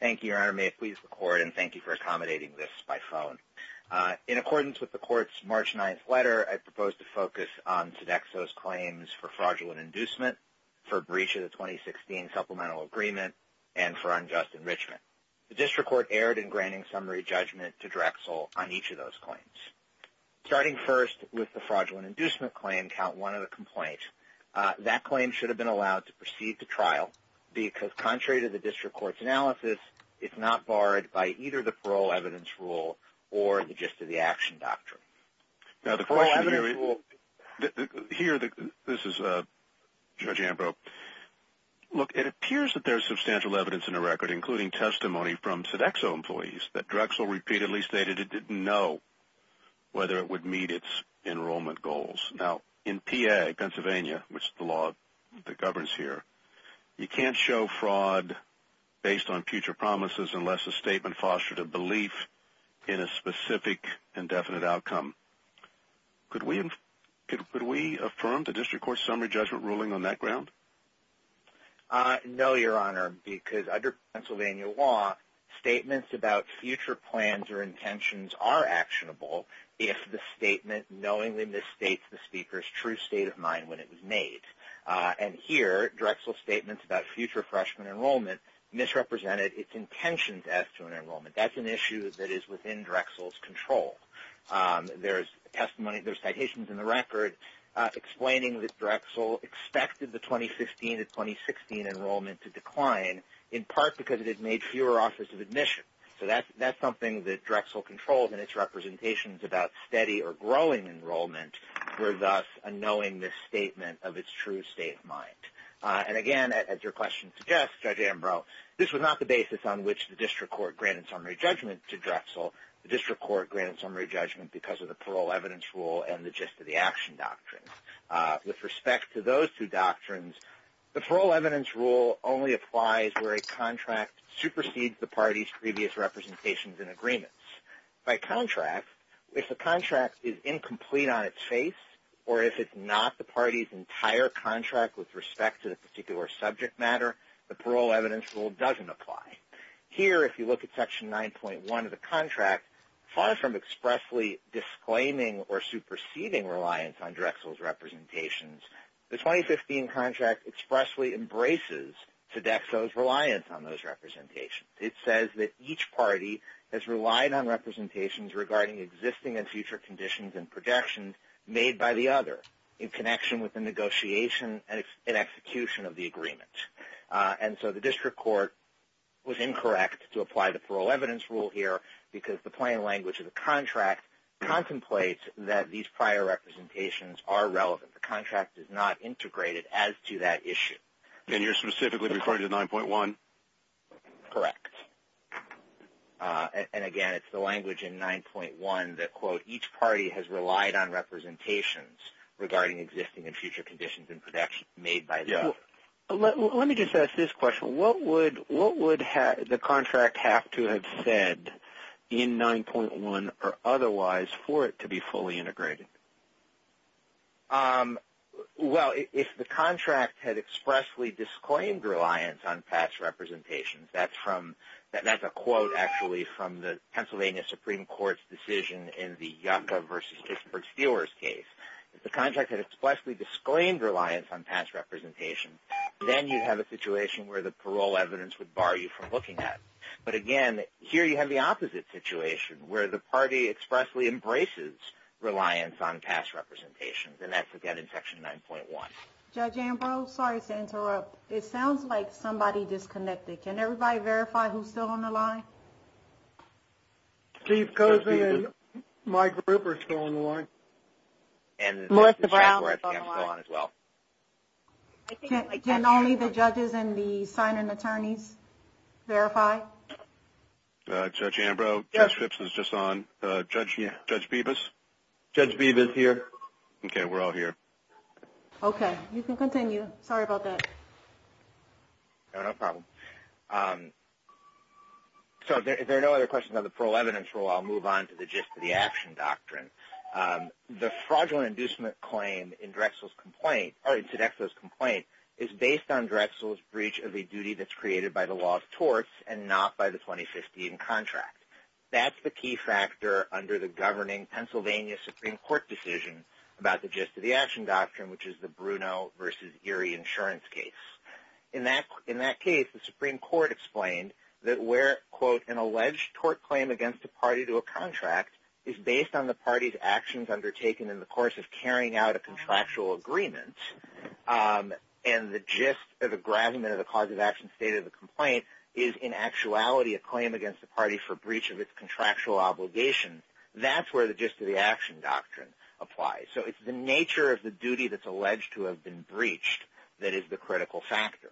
Thank you, Your Honor. May it please the Court, and thank you for accommodating this by phone. In accordance with the Court's March 9th letter, I propose to focus on Sodexo's claims for fraudulent inducement, for breach of the 2016 Supplemental Agreement, and for unjust enrichment. The District Court erred in granting summary judgment to Drexel on each of those claims. Starting first with the fraudulent inducement claim, count one of the complaints. That claim should have been allowed to proceed to trial because, contrary to the District Court's analysis, it's not barred by either the Parole Evidence Rule or the Gist of the Action Doctrine. Now, the Parole Evidence Rule... Here, this is Judge Ambrose. Look, it appears that there is substantial evidence in the record, including testimony from Sodexo employees, that Drexel repeatedly stated it didn't know whether it would meet its enrollment goals. Now, in PA, Pennsylvania, which is the law that governs here, you can't show fraud based on future promises unless a statement fostered a belief in a specific indefinite outcome. Could we affirm the District Court's summary judgment ruling on that ground? No, Your Honor, because under Pennsylvania law, statements about future plans or intentions are actionable if the statement knowingly misstates the speaker's true state of mind when it was made. And here, Drexel's statements about future freshman enrollment misrepresented its intentions as to an enrollment. That's an issue that is within Drexel's control. There's testimony, there's citations in the record explaining that Drexel expected the 2015-2016 enrollment to decline, in part because it had made fewer offers of admission. So that's something that Drexel controlled in its representations about steady or growing enrollment for thus unknowing this statement of its true state of mind. And again, as your question suggests, Judge Ambrose, this was not the basis on which the District Court granted summary judgment to Drexel. The District Court granted summary judgment because of the parole evidence rule and the gist of the action doctrines. With respect to those two doctrines, the parole evidence rule only applies where a contract supersedes the party's previous representations and agreements. By contract, if the contract is incomplete on its face or if it's not the party's entire contract with respect to the particular subject matter, the parole evidence rule doesn't apply. Here, if you look at Section 9.1 of the contract, far from expressly disclaiming or superseding reliance on Drexel's representations, the 2015 contract expressly embraces Sodexo's reliance on those representations. It says that each party has relied on representations regarding existing and future conditions and projections made by the other in connection with the negotiation and execution of the agreement. And so the District Court was incorrect to apply the parole evidence rule here because the plain language of the contract contemplates that these prior representations are relevant. The contract is not integrated as to that issue. And you're specifically referring to 9.1? Correct. And again, it's the language in 9.1 that, quote, each party has relied on representations regarding existing and future conditions and projections made by the other. Let me just ask this question. What would the contract have to have said in 9.1 or otherwise for it to be fully integrated? Well, if the contract had expressly disclaimed reliance on past representations, that's a quote actually from the Pennsylvania Supreme Court's decision in the Yucca v. If the contract had expressly disclaimed reliance on past representations, then you'd have a situation where the parole evidence would bar you from looking at it. But again, here you have the opposite situation where the party expressly embraces reliance on past representations, and that's again in Section 9.1. Judge Ambrose, sorry to interrupt. It sounds like somebody disconnected. Can everybody verify who's still on the line? Chief Cosby and Mike Rupert are still on the line. Melissa Brown is still on. Can only the judges and the sign-in attorneys verify? Judge Ambrose? Yes. Judge Vivas? Judge Vivas here. Okay, we're all here. Okay. You can continue. Sorry about that. No problem. So if there are no other questions on the parole evidence rule, I'll move on to the gist of the action doctrine. The fraudulent inducement claim in Drexel's complaint is based on Drexel's breach of a duty that's created by the law of torts and not by the 2015 contract. That's the key factor under the governing Pennsylvania Supreme Court decision about the gist of the action doctrine, which is the Bruno v. Erie insurance case. In that case, the Supreme Court explained that where, quote, an alleged tort claim against a party to a contract is based on the party's actions undertaken in the course of carrying out a contractual agreement and the gist or the gravamen of the cause of action stated in the complaint is in actuality a claim against the party for breach of its contractual obligation. That's where the gist of the action doctrine applies. So it's the nature of the duty that's alleged to have been breached that is the critical factor.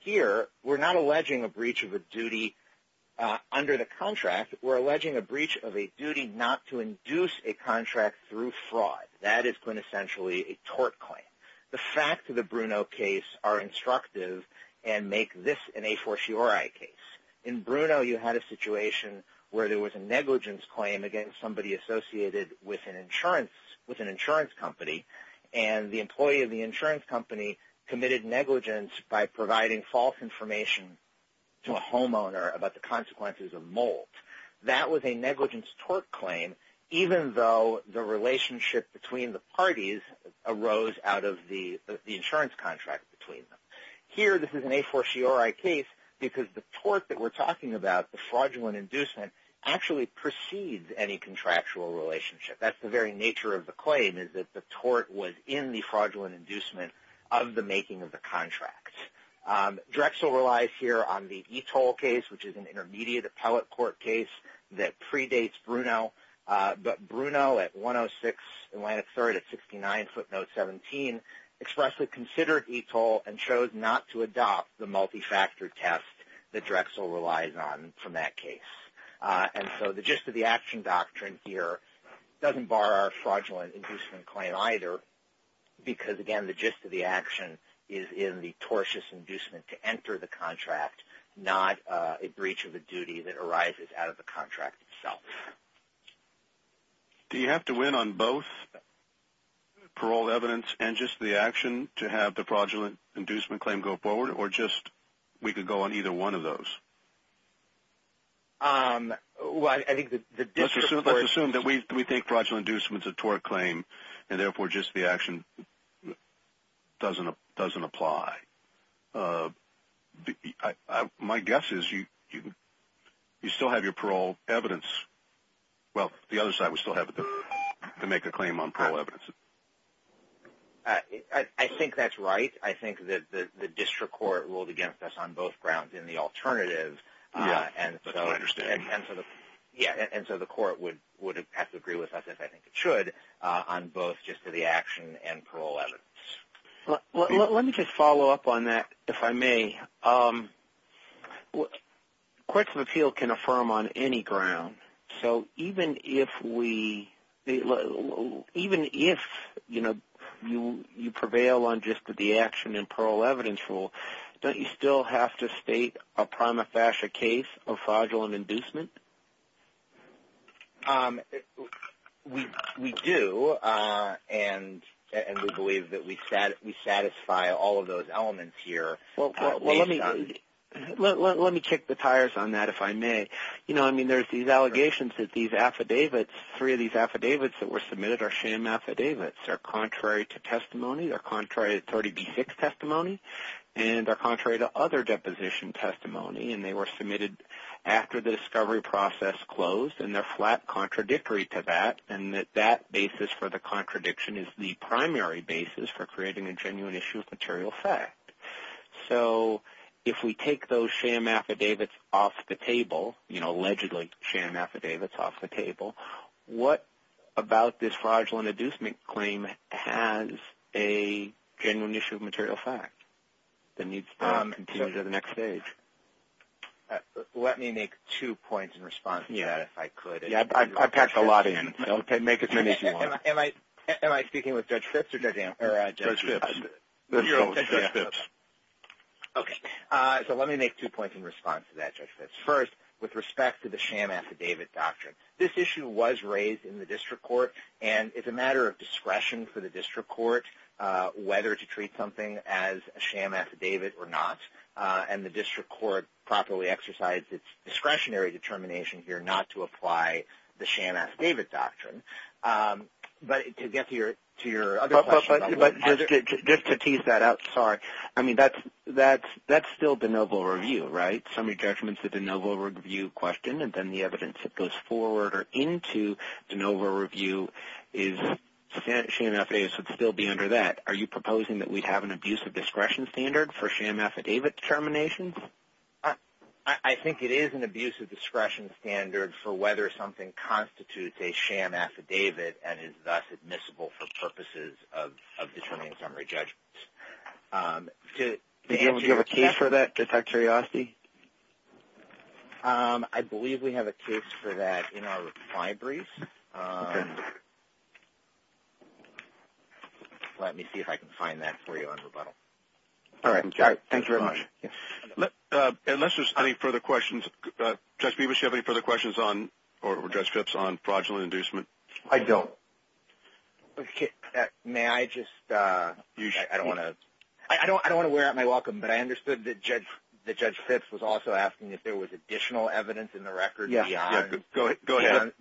Here, we're not alleging a breach of a duty under the contract. We're alleging a breach of a duty not to induce a contract through fraud. That is quintessentially a tort claim. The facts of the Bruno case are instructive and make this an a fortiori case. In Bruno, you had a situation where there was a negligence claim against somebody associated with an insurance company, and the employee of the insurance company committed negligence by providing false information to a homeowner about the consequences of mold. That was a negligence tort claim, even though the relationship between the parties arose out of the insurance contract between them. Here, this is an a fortiori case because the tort that we're talking about, the fraudulent inducement, actually precedes any contractual relationship. That's the very nature of the claim is that the tort was in the fraudulent inducement of the making of the contract. Drexel relies here on the Etole case, which is an intermediate appellate court case that predates Bruno. Bruno, at 106 Atlantic 3rd at 69 footnote 17, expressly considered Etole and chose not to adopt the multi-factor test that Drexel relies on from that case. The gist of the action doctrine here doesn't bar our fraudulent inducement claim either because, again, the gist of the action is in the tortious inducement to enter the contract, not a breach of the duty that arises out of the contract itself. Do you have to win on both paroled evidence and just the action to have the fraudulent inducement claim go forward, or just we could go on either one of those? Well, I think the gist of it. Let's assume that we think fraudulent inducement's a tort claim and, therefore, just the action doesn't apply. My guess is you still have your parole evidence. Well, the other side would still have to make a claim on parole evidence. I think that's right. I think that the district court ruled against us on both grounds in the alternative. Yeah, but I don't understand. Yeah, and so the court would have to agree with us, if I think it should, on both gist of the action and parole evidence. Let me just follow up on that, if I may. Courts of appeal can affirm on any ground. So even if you prevail on just the action and parole evidence rule, don't you still have to state a prima facie case of fraudulent inducement? We do, and we believe that we satisfy all of those elements here. Well, let me kick the tires on that, if I may. You know, I mean, there's these allegations that these affidavits, three of these affidavits that were submitted are sham affidavits. They're contrary to testimony. They're contrary to 30B6 testimony, and they're contrary to other deposition testimony, and they were submitted after the discovery process closed, and they're flat contradictory to that, and that that basis for the contradiction is the primary basis for creating a genuine issue of material fact. So if we take those sham affidavits off the table, you know, allegedly sham affidavits off the table, what about this fraudulent inducement claim has a genuine issue of material fact? The need to continue to the next stage. Let me make two points in response to that, if I could. Yeah, I've got a lot in. Okay, make as many as you want. Am I speaking with Judge Phipps or Judge Amherst? Judge Phipps. So let me make two points in response to that, Judge Phipps. First, with respect to the sham affidavit doctrine, this issue was raised in the district court, and it's a matter of discretion for the district court whether to treat something as a sham affidavit or not, and the district court properly exercised its discretionary determination here not to apply the sham affidavit doctrine. But to get to your other question. But just to tease that out, sorry, I mean, that's still de novo review, right? I think the summary judgment's a de novo review question, and then the evidence that goes forward or into de novo review is sham affidavits would still be under that. Are you proposing that we have an abuse of discretion standard for sham affidavit determinations? I think it is an abuse of discretion standard for whether something constitutes a sham affidavit and is thus admissible for purposes of determining summary judgments. Do you have a case for that, just out of curiosity? I believe we have a case for that in our reply brief. Let me see if I can find that for you on rebuttal. All right. Thank you very much. Unless there's any further questions, Judge Phipps, do you have any further questions on fraudulent inducement? I don't. Okay. May I just? I don't want to wear out my welcome, but I understood that Judge Phipps was also asking if there was additional evidence in the record beyond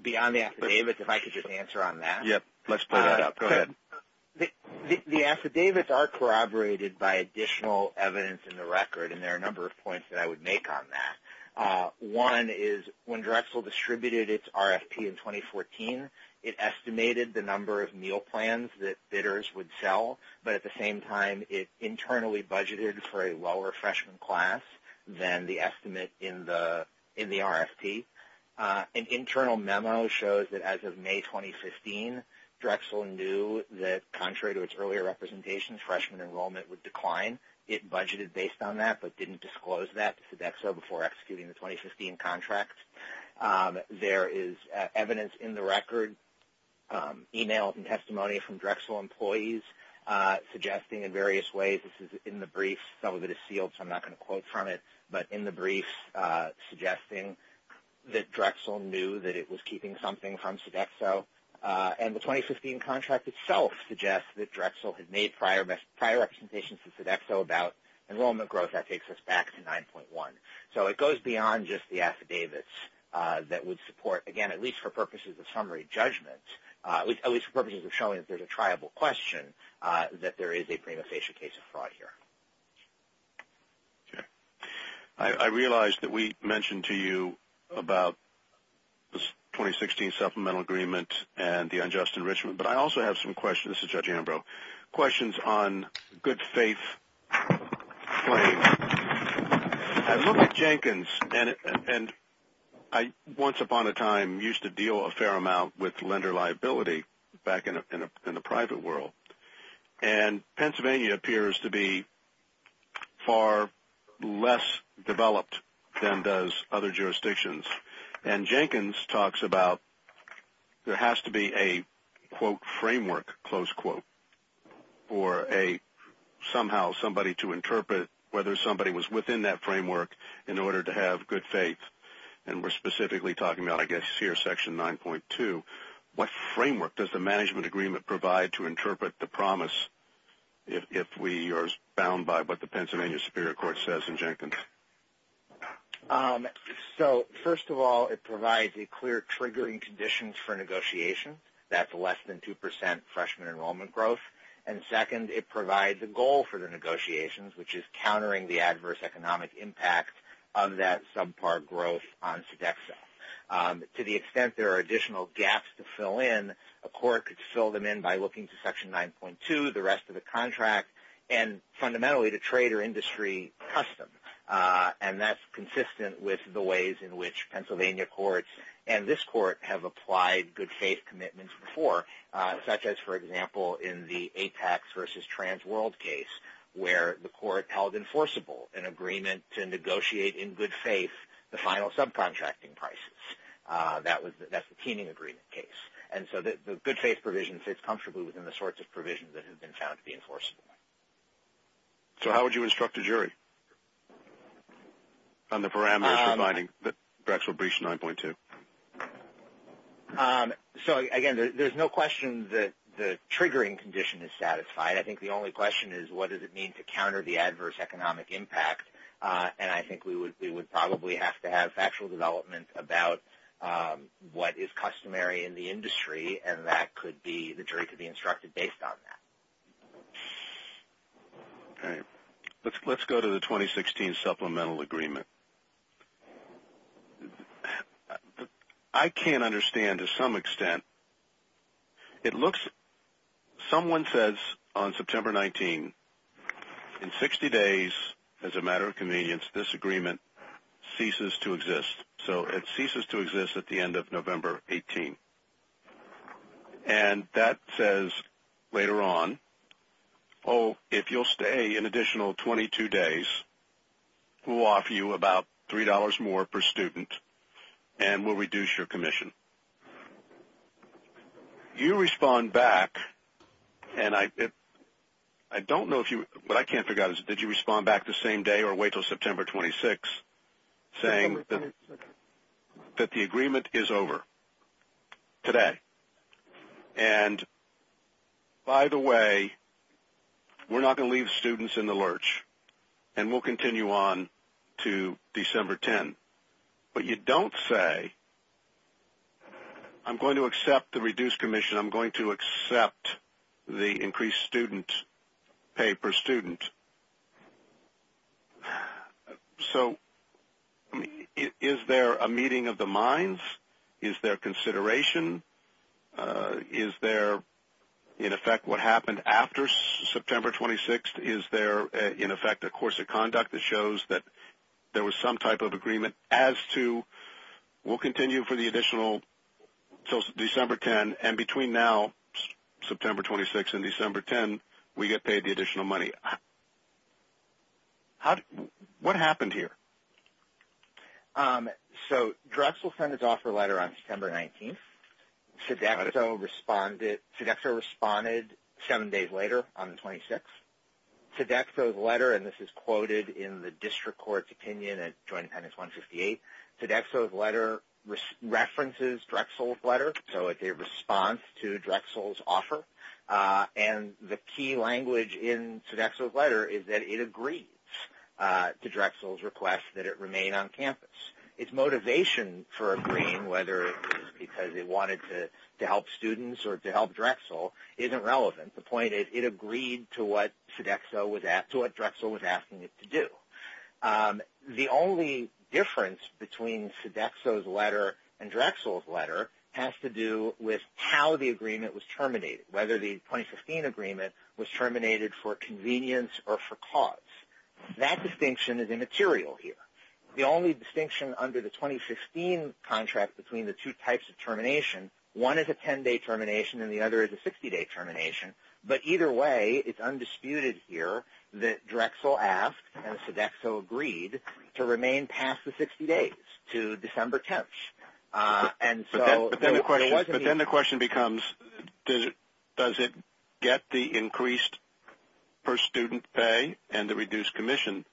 the affidavits. If I could just answer on that. Yes. Let's pull that up. Go ahead. The affidavits are corroborated by additional evidence in the record, and there are a number of points that I would make on that. One is when Drexel distributed its RFP in 2014, it estimated the number of meal plans that bidders would sell, but at the same time it internally budgeted for a lower freshman class than the estimate in the RFP. An internal memo shows that as of May 2015, Drexel knew that contrary to its earlier representations, freshman enrollment would decline. It budgeted based on that but didn't disclose that to Sodexo before executing the 2015 contract. There is evidence in the record, emails and testimony from Drexel employees, suggesting in various ways, this is in the brief. Some of it is sealed, so I'm not going to quote from it, but in the brief suggesting that Drexel knew that it was keeping something from Sodexo, and the 2015 contract itself suggests that Drexel had made prior representations to Sodexo about enrollment growth. That takes us back to 9.1. So it goes beyond just the affidavits that would support, again, at least for purposes of summary judgment, at least for purposes of showing that there's a triable question, that there is a premutation case of fraud here. Okay. I realize that we mentioned to you about the 2016 supplemental agreement and the unjust enrichment, but I also have some questions. This is Judge Ambrose. Questions on good faith claims. I look at Jenkins, and I once upon a time used to deal a fair amount with lender liability, back in the private world. And Pennsylvania appears to be far less developed than does other jurisdictions. And Jenkins talks about there has to be a, quote, framework, close quote, or somehow somebody to interpret whether somebody was within that framework in order to have good faith. And we're specifically talking about, I guess, here, Section 9.2. What framework does the management agreement provide to interpret the promise, if we are bound by what the Pennsylvania Superior Court says in Jenkins? So, first of all, it provides a clear triggering condition for negotiation. That's less than 2% freshman enrollment growth. And second, it provides a goal for the negotiations, which is countering the adverse economic impact of that subpar growth on Sodexo. To the extent there are additional gaps to fill in, a court could fill them in by looking to Section 9.2, the rest of the contract, and fundamentally to trade or industry custom. And that's consistent with the ways in which Pennsylvania courts and this court have applied good faith commitments before, such as, for example, in the Apex versus Transworld case where the court held enforceable an agreement to negotiate in good faith the final subcontracting prices. That's the Keening Agreement case. And so the good faith provision fits comfortably within the sorts of provisions that have been found to be enforceable. So how would you instruct a jury on the parameters providing Braxel Breach 9.2? So, again, there's no question that the triggering condition is satisfied. I think the only question is, what does it mean to counter the adverse economic impact? And I think we would probably have to have factual development about what is customary in the industry, and that could be the jury could be instructed based on that. All right. Let's go to the 2016 Supplemental Agreement. I can't understand to some extent. Someone says on September 19, in 60 days, as a matter of convenience, this agreement ceases to exist. So it ceases to exist at the end of November 18. And that says later on, oh, if you'll stay an additional 22 days, we'll offer you about $3 more per student and we'll reduce your commission. You respond back, and I don't know if you – but I can't figure out, did you respond back the same day or wait until September 26 saying that the agreement is over today? And, by the way, we're not going to leave students in the lurch. And we'll continue on to December 10. But you don't say, I'm going to accept the reduced commission, I'm going to accept the increased student pay per student. So, is there a meeting of the minds? Is there consideration? Is there, in effect, what happened after September 26? Is there, in effect, a course of conduct that shows that there was some type of agreement as to, we'll continue for the additional – so December 10. And between now, September 26 and December 10, we get paid the additional money. What happened here? So, Drexel sent its offer letter on September 19. Sodexo responded seven days later on the 26th. Sodexo's letter, and this is quoted in the district court's opinion at Joint Appendix 158, Sodexo's letter references Drexel's letter, so it's a response to Drexel's offer. And the key language in Sodexo's letter is that it agrees to Drexel's request that it remain on campus. Its motivation for agreeing, whether it was because it wanted to help students or to help Drexel, isn't relevant. The point is, it agreed to what Drexel was asking it to do. The only difference between Sodexo's letter and Drexel's letter has to do with how the agreement was terminated, whether the 2015 agreement was terminated for convenience or for cause. That distinction is immaterial here. The only distinction under the 2015 contract between the two types of termination, one is a 10-day termination and the other is a 60-day termination, but either way, it's undisputed here that Drexel asked and Sodexo agreed to remain past the 60 days to December 10th. But then the question becomes, does it get the increased per-student pay and the reduced commission?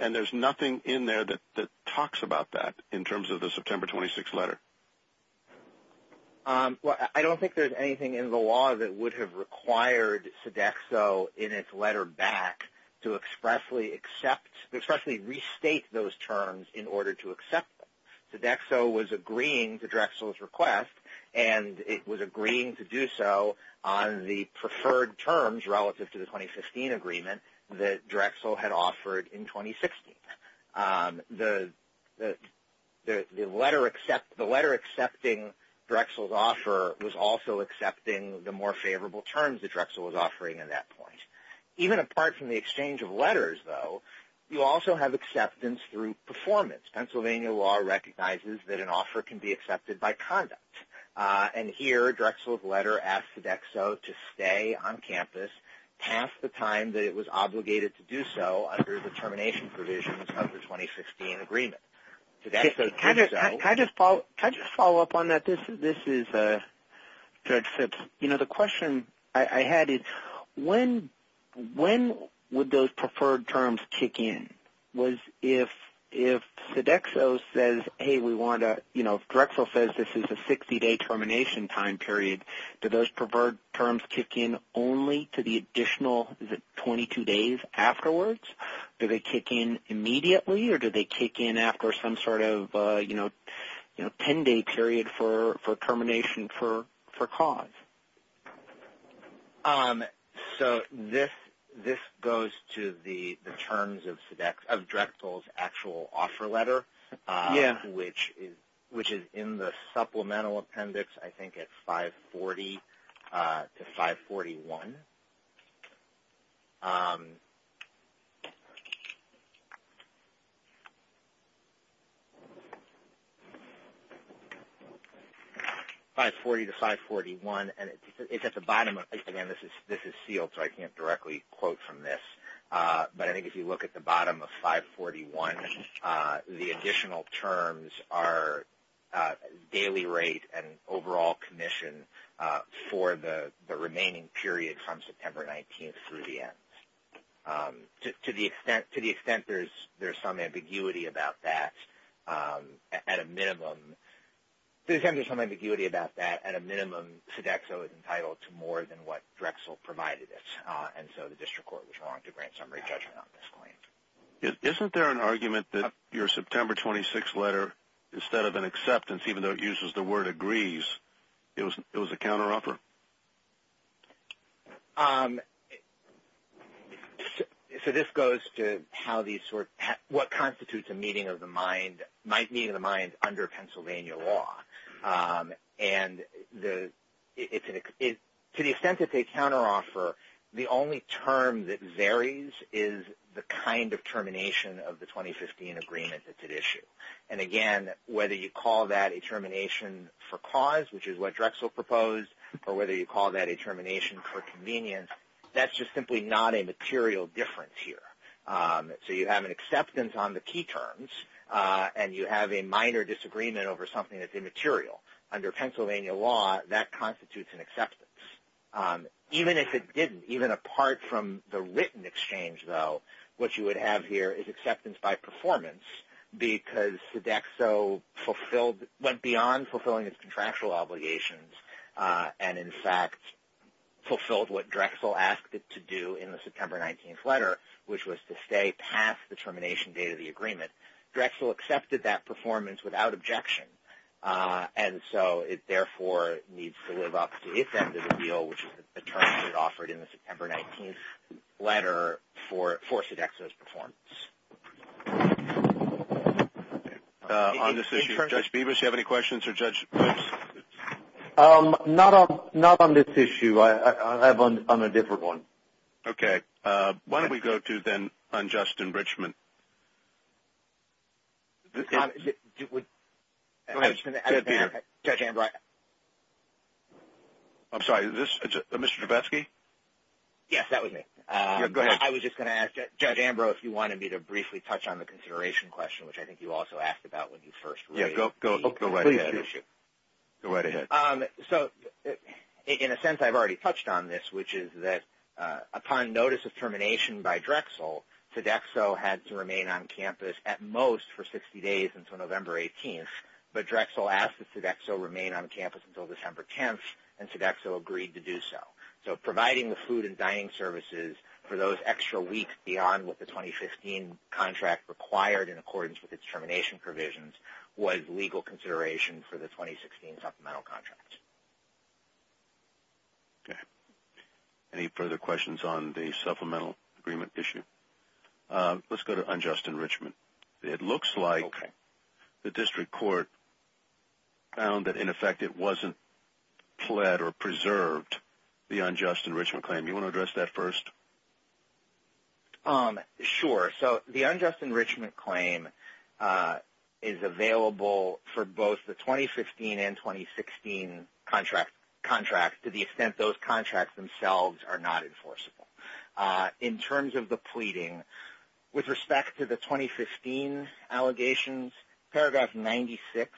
And there's nothing in there that talks about that in terms of the September 26th letter. I don't think there's anything in the law that would have required Sodexo in its letter back to expressly accept, expressly restate those terms in order to accept them. Sodexo was agreeing to Drexel's request, and it was agreeing to do so on the preferred terms relative to the 2015 agreement that Drexel had offered in 2016. The letter accepting Drexel's offer was also accepting the more favorable terms that Drexel was offering at that point. Even apart from the exchange of letters, though, you also have acceptance through performance. Pennsylvania law recognizes that an offer can be accepted by conduct, and here Drexel's letter asked Sodexo to stay on campus past the time that it was obligated to do so under the termination provisions of the 2016 agreement. Can I just follow up on that? This is Fred Phipps. You know, the question I had is, when would those preferred terms kick in? Was if Sodexo says, hey, we want to, you know, Drexel says this is a 60-day termination time period, do those preferred terms kick in only to the additional 22 days afterwards? Do they kick in immediately, or do they kick in after some sort of, you know, 10-day period for termination for cause? So this goes to the terms of Drexel's actual offer letter, which is in the supplemental appendix, I think it's 540 to 541. 540 to 541, and it's at the bottom. Again, this is sealed, so I can't directly quote from this, but I think if you look at the bottom of 541, the additional terms are daily rate and overall commission for the remaining period from September 19th through the end. To the extent there's some ambiguity about that, at a minimum, to the extent there's some ambiguity about that, at a minimum, Sodexo is entitled to more than what Drexel provided it, and so the district court was wrong to grant summary judgment on this claim. Isn't there an argument that your September 26th letter, instead of an acceptance, even though it uses the word agrees, it was a counteroffer? So this goes to what constitutes a meeting of the mind under Pennsylvania law, and to the extent that they counteroffer, the only term that varies is the kind of termination of the 2015 agreement that's at issue. And again, whether you call that a termination for cause, which is what Drexel proposed, or whether you call that a termination for convenience, that's just simply not a material difference here. So you have an acceptance on the key terms, and you have a minor disagreement over something that's immaterial. Under Pennsylvania law, that constitutes an acceptance. Even if it didn't, even apart from the written exchange, though, what you would have here is acceptance by performance, because Sodexo went beyond fulfilling its contractual obligations and, in fact, fulfilled what Drexel asked it to do in the September 19th letter, which was to stay past the termination date of the agreement. Drexel accepted that performance without objection, and so it therefore needs to live up to its end of the deal, which is the term that's offered in the September 19th letter for Sodexo's performance. On this issue, Judge Bevis, do you have any questions for Judge Bevis? Not on this issue. I'm on a different one. Okay. Why don't we go to, then, on Justin Richman? I'm sorry, is this Mr. Joubesky? Yes, that was me. I was just going to ask Judge Ambrose if you wanted me to briefly touch on the consideration question, which I think you also asked about when you first raised the issue. Go right ahead. So, in a sense, I've already touched on this, which is that upon notice of termination by Drexel, Sodexo had to remain on campus at most for 60 days until November 18th, but Drexel asked that Sodexo remain on campus until December 10th, and Sodexo agreed to do so. So providing the food and dining services for those extra weeks beyond what the 2015 contract required in accordance with its termination provisions was legal consideration for the 2016 supplemental contract. Okay. Any further questions on the supplemental agreement issue? Let's go to unjust enrichment. It looks like the district court found that, in effect, it wasn't pled or preserved the unjust enrichment claim. Do you want to address that first? Sure. So the unjust enrichment claim is available for both the 2015 and 2016 contracts, to the extent those contracts themselves are not enforceable. In terms of the pleading, with respect to the 2015 allegations, Paragraph 96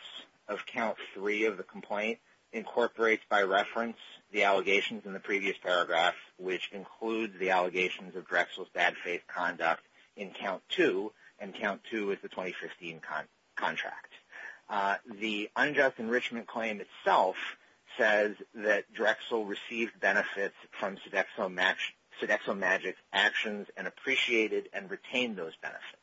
of Count 3 of the complaint incorporates by reference the allegations in the previous paragraph, which includes the allegations of Drexel's bad faith conduct in Count 2, and Count 2 is the 2015 contract. The unjust enrichment claim itself says that Drexel received benefits from SodexoMagic's actions and appreciated and retained those benefits.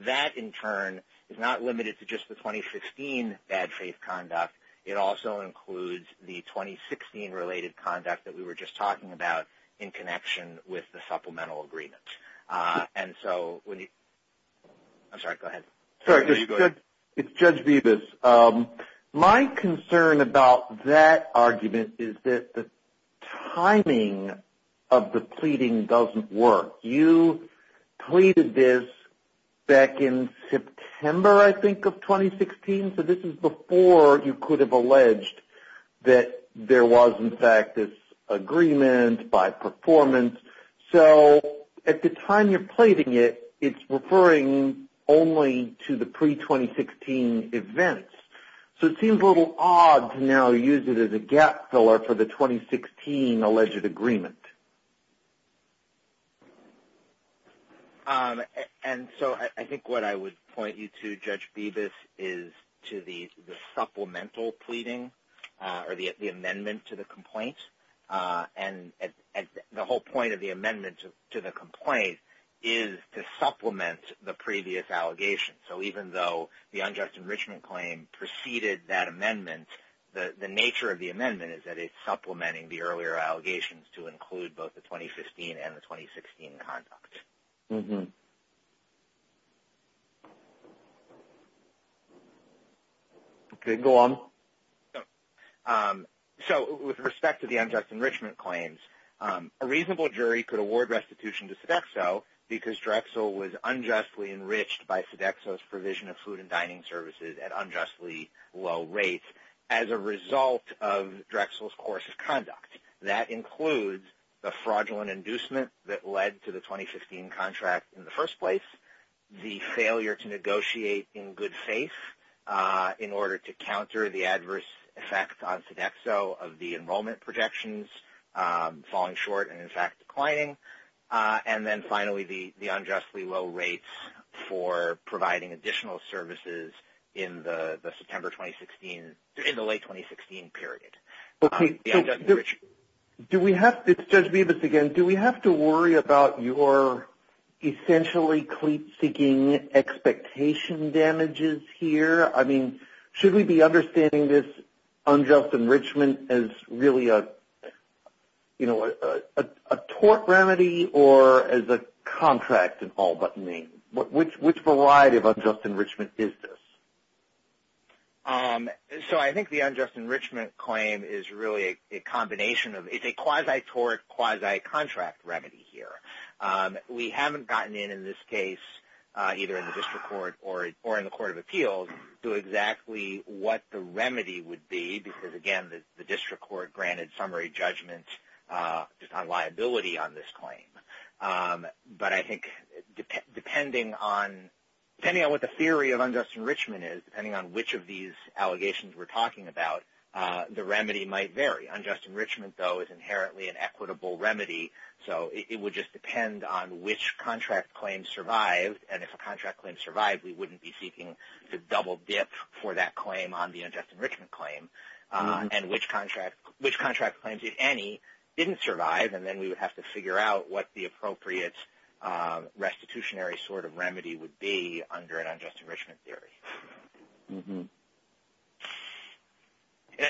That, in turn, is not limited to just the 2015 bad faith conduct. It also includes the 2016 related conduct that we were just talking about in connection with the supplemental agreement. And so when you – I'm sorry, go ahead. Sorry, it's Judge Vivas. My concern about that argument is that the timing of the pleading doesn't work. You pleaded this back in September, I think, of 2016. So this is before you could have alleged that there was, in fact, this agreement by performance. So at the time you're pleading it, it's referring only to the pre-2016 events. So it seems a little odd to now use it as a gap filler for the 2016 alleged agreement. And so I think what I would point you to, Judge Vivas, is to the supplemental pleading or the amendment to the complaint. And the whole point of the amendment to the complaint is to supplement the previous allegation. So even though the unjust enrichment claim preceded that amendment, the nature of the amendment is that it's supplementing the earlier allegations to include both the 2015 and the 2016 conduct. Okay, go on. So with respect to the unjust enrichment claims, a reasonable jury could award restitution to Sodexo because Drexel was unjustly enriched by Sodexo's provision of food and dining services at unjustly low rates as a result of Drexel's course of conduct. That includes the fraudulent inducement that led to the 2015 contract in the first place, the failure to negotiate in good faith in order to counter the adverse effect on Sodexo of the enrollment projections falling short and in fact declining, and then finally the unjustly low rates for providing additional services in the late 2016 period. Judge Vivas, again, do we have to worry about your essentially cleats seeking expectation damages here? I mean, should we be understanding this unjust enrichment as really a tort remedy or as a contract in all but name? Which variety of unjust enrichment is this? So I think the unjust enrichment claim is really a combination of – it's a quasi-tort, quasi-contract remedy here. We haven't gotten in, in this case, either in the District Court or in the Court of Appeals to exactly what the remedy would be because, again, the District Court granted summary judgment on liability on this claim. But I think depending on what the theory of unjust enrichment is, depending on which of these allegations we're talking about, the remedy might vary. The unjust enrichment, though, is inherently an equitable remedy. So it would just depend on which contract claim survived. And if a contract claim survived, we wouldn't be seeking the double dip for that claim on the unjust enrichment claim and which contract claims, if any, didn't survive. And then we would have to figure out what the appropriate restitutionary sort of remedy would be under an unjust enrichment theory.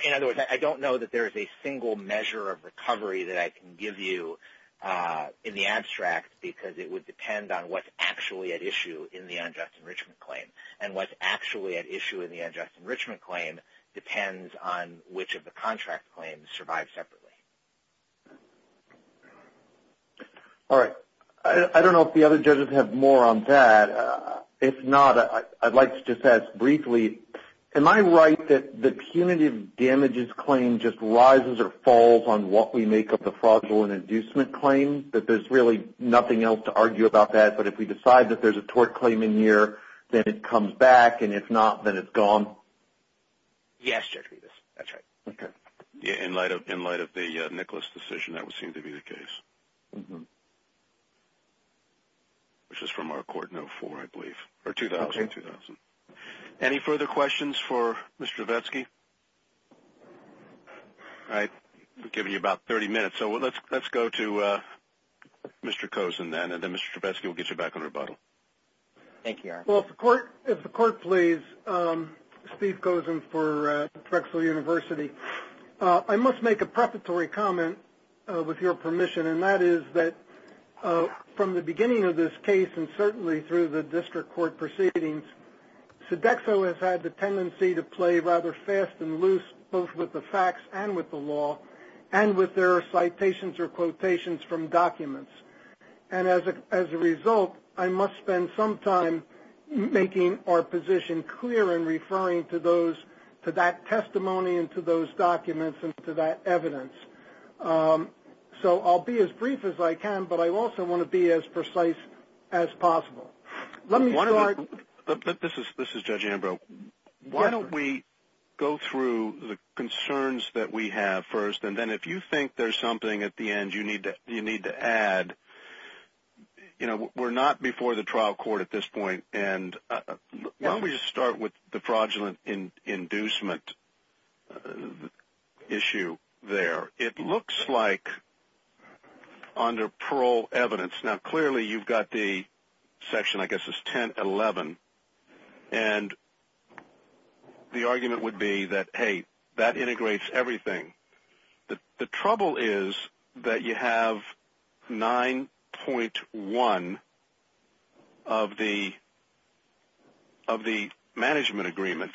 In other words, I don't know that there is a single measure of recovery that I can give you in the abstract because it would depend on what's actually at issue in the unjust enrichment claim. And what's actually at issue in the unjust enrichment claim depends on which of the contract claims survived separately. All right. I don't know if the other judges have more on that. If not, I'd like to just ask briefly, am I right that the punitive damages claim just rises or falls on what we make of the fraudulent inducement claim, that there's really nothing else to argue about that, but if we decide that there's a tort claim in here, then it comes back, and if not, then it's gone? Yes, Judge Rivas. That's right. Okay. In light of the Nicholas decision, that would seem to be the case, which is from our court in 2004, I believe, or 2000. Okay. Any further questions for Mr. Trevesky? All right. We've given you about 30 minutes, so let's go to Mr. Kozin then, and then Mr. Trevesky will get you back on rebuttal. Thank you, Eric. Well, if the court please, Steve Kozin for Drexel University. I must make a preparatory comment with your permission, and that is that from the beginning of this case and certainly through the district court proceedings, Sodexo has had the tendency to play rather fast and loose both with the facts and with the law and with their citations or quotations from documents, and as a result, I must spend some time making our position clear and referring to that testimony and to those documents and to that evidence. So I'll be as brief as I can, but I also want to be as precise as possible. This is Judge Ambrose. Why don't we go through the concerns that we have first, and then if you think there's something at the end you need to add. You know, we're not before the trial court at this point, and why don't we just start with the fraudulent inducement issue there. It looks like under parole evidence, now clearly you've got the section, I guess it's 1011, and the argument would be that, hey, that integrates everything. The trouble is that you have 9.1 of the management agreement,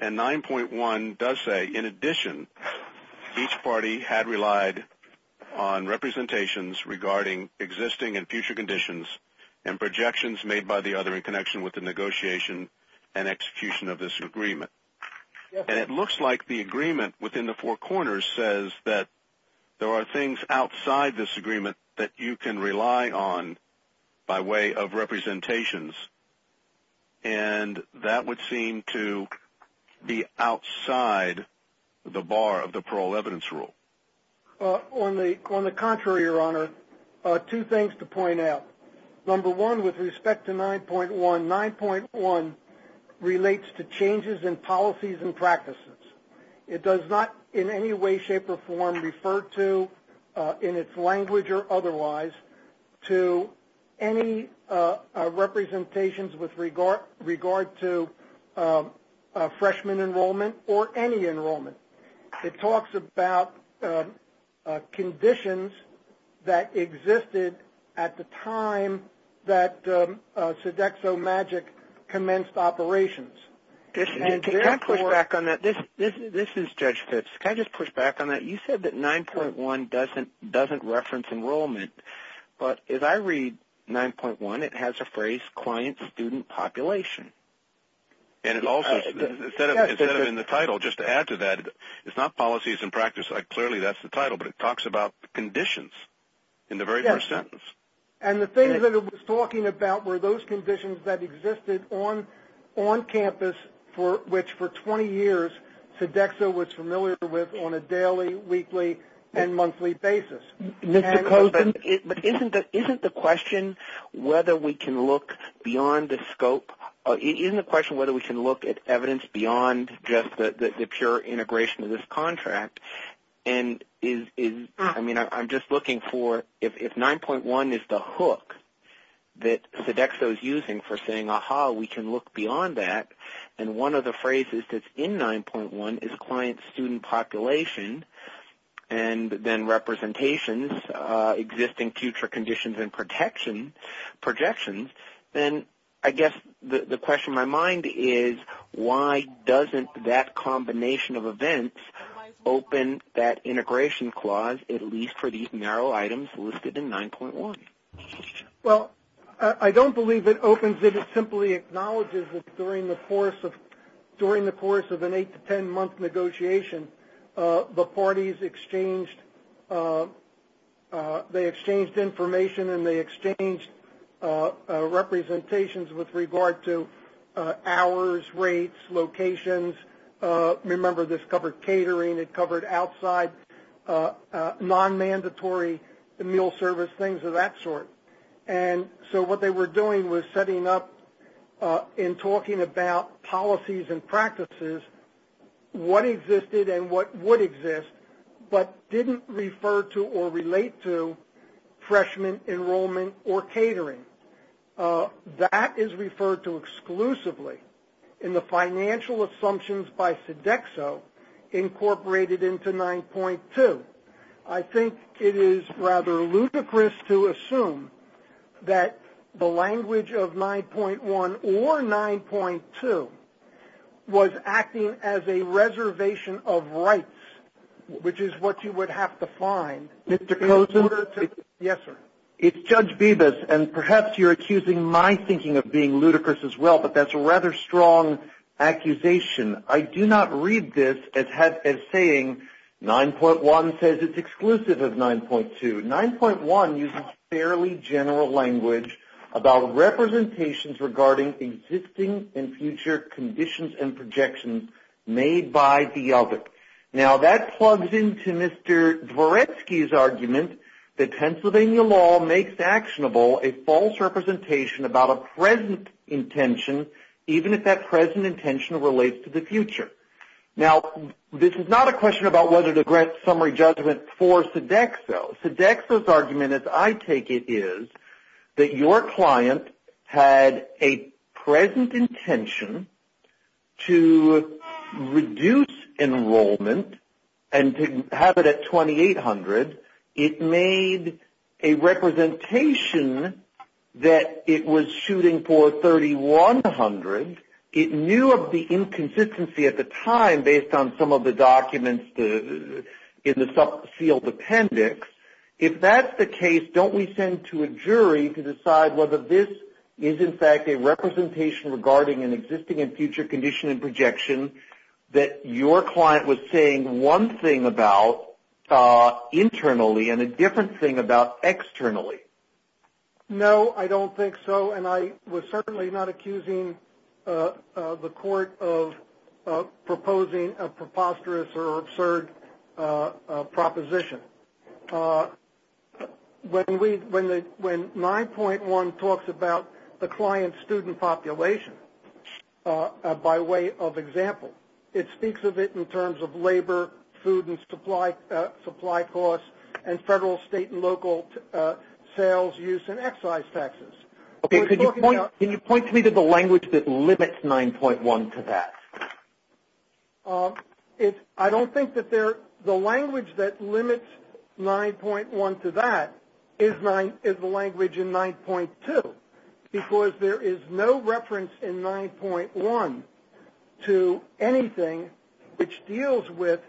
and 9.1 does say, in addition, each party had relied on representations regarding existing and future conditions and projections made by the other in connection with the negotiation and execution of this agreement. And it looks like the agreement within the four corners says that there are things outside this agreement that you can rely on by way of representations, and that would seem to be outside the bar of the parole evidence rule. On the contrary, Your Honor, two things to point out. Number one, with respect to 9.1, 9.1 relates to changes in policies and practices. It does not in any way, shape, or form refer to, in its language or otherwise, to any representations with regard to freshman enrollment or any enrollment. It talks about conditions that existed at the time that SodexoMagic commenced operations. Can I push back on that? This is Judge Fitz. Can I just push back on that? You said that 9.1 doesn't reference enrollment, but if I read 9.1, it has a phrase, student population. And it also, instead of in the title, just to add to that, it's not policies and practices. Clearly that's the title, but it talks about conditions in the very first sentence. And the things that it was talking about were those conditions that existed on campus, which for 20 years Sodexo was familiar with on a daily, weekly, and monthly basis. But isn't the question whether we can look beyond the scope? Isn't the question whether we can look at evidence beyond just the pure integration of this contract? I mean, I'm just looking for if 9.1 is the hook that Sodexo is using for saying, aha, we can look beyond that. And one of the phrases that's in 9.1 is client-student population. And then representations, existing future conditions and projections. And I guess the question in my mind is, why doesn't that combination of events open that integration clause, at least for these narrow items listed in 9.1? Well, I don't believe it opens it. It simply acknowledges that during the course of an eight- to ten-month negotiation, the parties exchanged information and they exchanged representations with regard to hours, rates, locations. Remember, this covered catering, it covered outside, non-mandatory meal service, things of that sort. And so what they were doing was setting up and talking about policies and practices, what existed and what would exist, but didn't refer to or relate to freshman enrollment or catering. That is referred to exclusively in the financial assumptions by Sodexo incorporated into 9.2. I think it is rather ludicrous to assume that the language of 9.1 or 9.2 was acting as a reservation of rights, which is what you would have to find in order to... Mr. Cozen? Yes, sir. It's Judge Bevis, and perhaps you're accusing my thinking of being ludicrous as well, but that's a rather strong accusation. I do not read this as saying 9.1 says it's exclusive of 9.2. 9.1 uses fairly general language about representations regarding existing and future conditions and projections made by the other. Now that plugs into Mr. Dvoretsky's argument that Pennsylvania law makes actionable a false representation about a present intention, even if that present intention relates to the future. Now this is not a question about whether to grant summary judgment for Sodexo. Sodexo's argument, as I take it, is that your client had a present intention to reduce enrollment and to have it at 2,800. It made a representation that it was shooting for 3,100. It knew of the inconsistency at the time based on some of the documents in the field appendix. If that's the case, don't we send to a jury to decide whether this is in fact a representation regarding an existing and future condition and projection that your client was saying one thing about internally and a different thing about externally? No, I don't think so, and I was certainly not accusing the court of proposing a preposterous or absurd proposition. When 9.1 talks about the client-student population by way of example, it speaks of it in terms of labor, food and supply costs, and federal, state, and local sales use and excise taxes. Can you point to me the language that limits 9.1 to that? I don't think that the language that limits 9.1 to that is the language in 9.2, because there is no reference in 9.1 to anything which deals with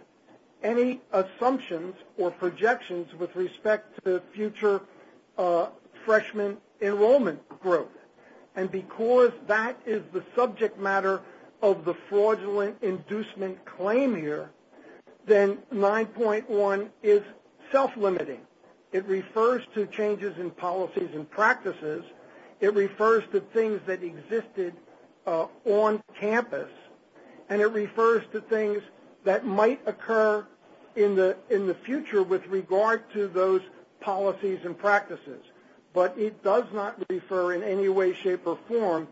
any assumptions or projections with respect to future freshman enrollment growth. And because that is the subject matter of the fraudulent inducement claim here, then 9.1 is self-limiting. It refers to changes in policies and practices. It refers to things that existed on campus, and it refers to things that might occur in the future with regard to those policies and practices. But it does not refer in any way, shape, or form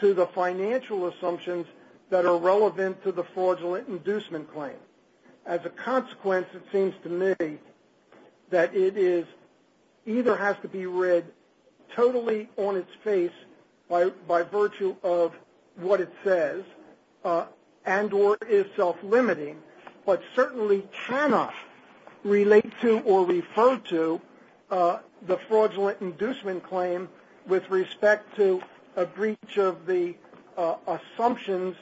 to the financial assumptions that are relevant to the fraudulent inducement claim. As a consequence, it seems to me that it either has to be read totally on its face by virtue of what it says and or is self-limiting, but certainly cannot relate to or refer to the fraudulent inducement claim with respect to a breach of the assumptions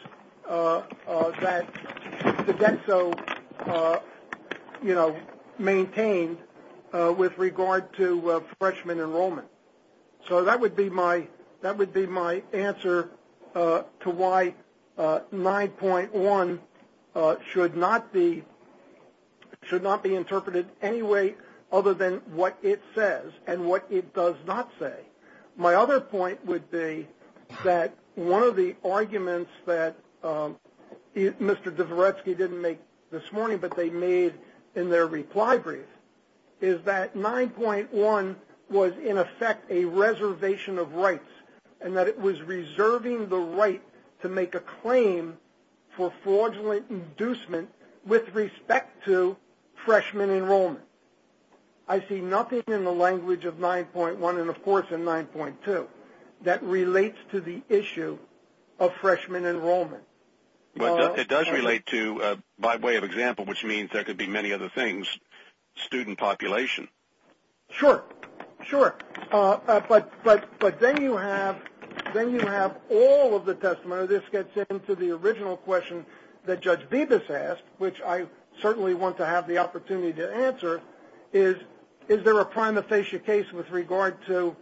that Codenso maintained with regard to freshman enrollment. So that would be my answer to why 9.1 should not be interpreted any way other than what it says and what it does not say. My other point would be that one of the arguments that Mr. Dvoretsky didn't make this morning, but they made in their reply brief, is that 9.1 was in effect a reservation of rights and that it was reserving the right to make a claim for fraudulent inducement with respect to freshman enrollment. I see nothing in the language of 9.1 and, of course, in 9.2 that relates to the issue of freshman enrollment. It does relate to, by way of example, which means there could be many other things, student population. Sure, sure. But then you have all of the testimony. This gets into the original question that Judge Vivas asked, which I certainly want to have the opportunity to answer, is there a prima facie case with regard to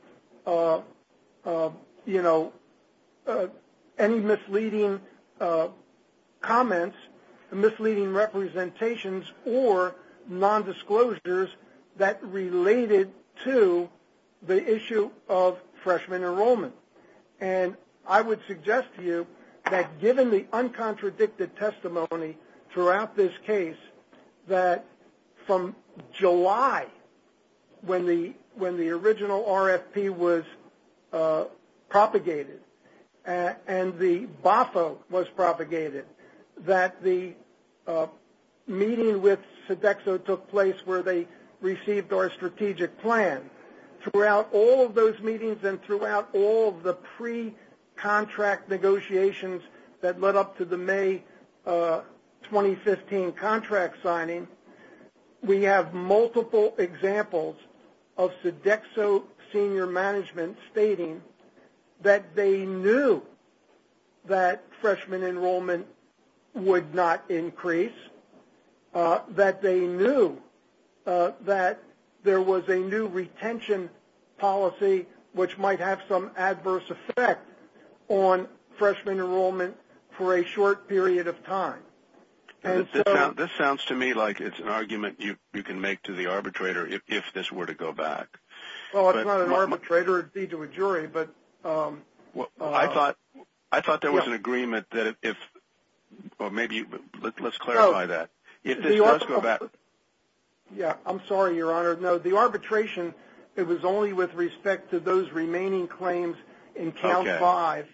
any misleading comments, misleading representations, or nondisclosures that related to the issue of freshman enrollment? And I would suggest to you that given the uncontradicted testimony throughout this case, that from July when the original RFP was propagated and the BOFO was propagated, that the meeting with Sodexo took place where they received our strategic plan. Throughout all of those meetings and throughout all of the pre-contract negotiations that led up to the May 2015 contract signing, we have multiple examples of Sodexo senior management stating that they knew that freshman enrollment would not increase, that they knew that there was a new retention policy which might have some adverse effect on freshman enrollment for a short period of time. This sounds to me like it's an argument you can make to the arbitrator if this were to go back. Well, it's not an arbitrator. It would be to a jury. I thought there was an agreement that if – or maybe – let's clarify that. Let's go back. Yeah, I'm sorry, Your Honor. No, the arbitration, it was only with respect to those remaining claims in count five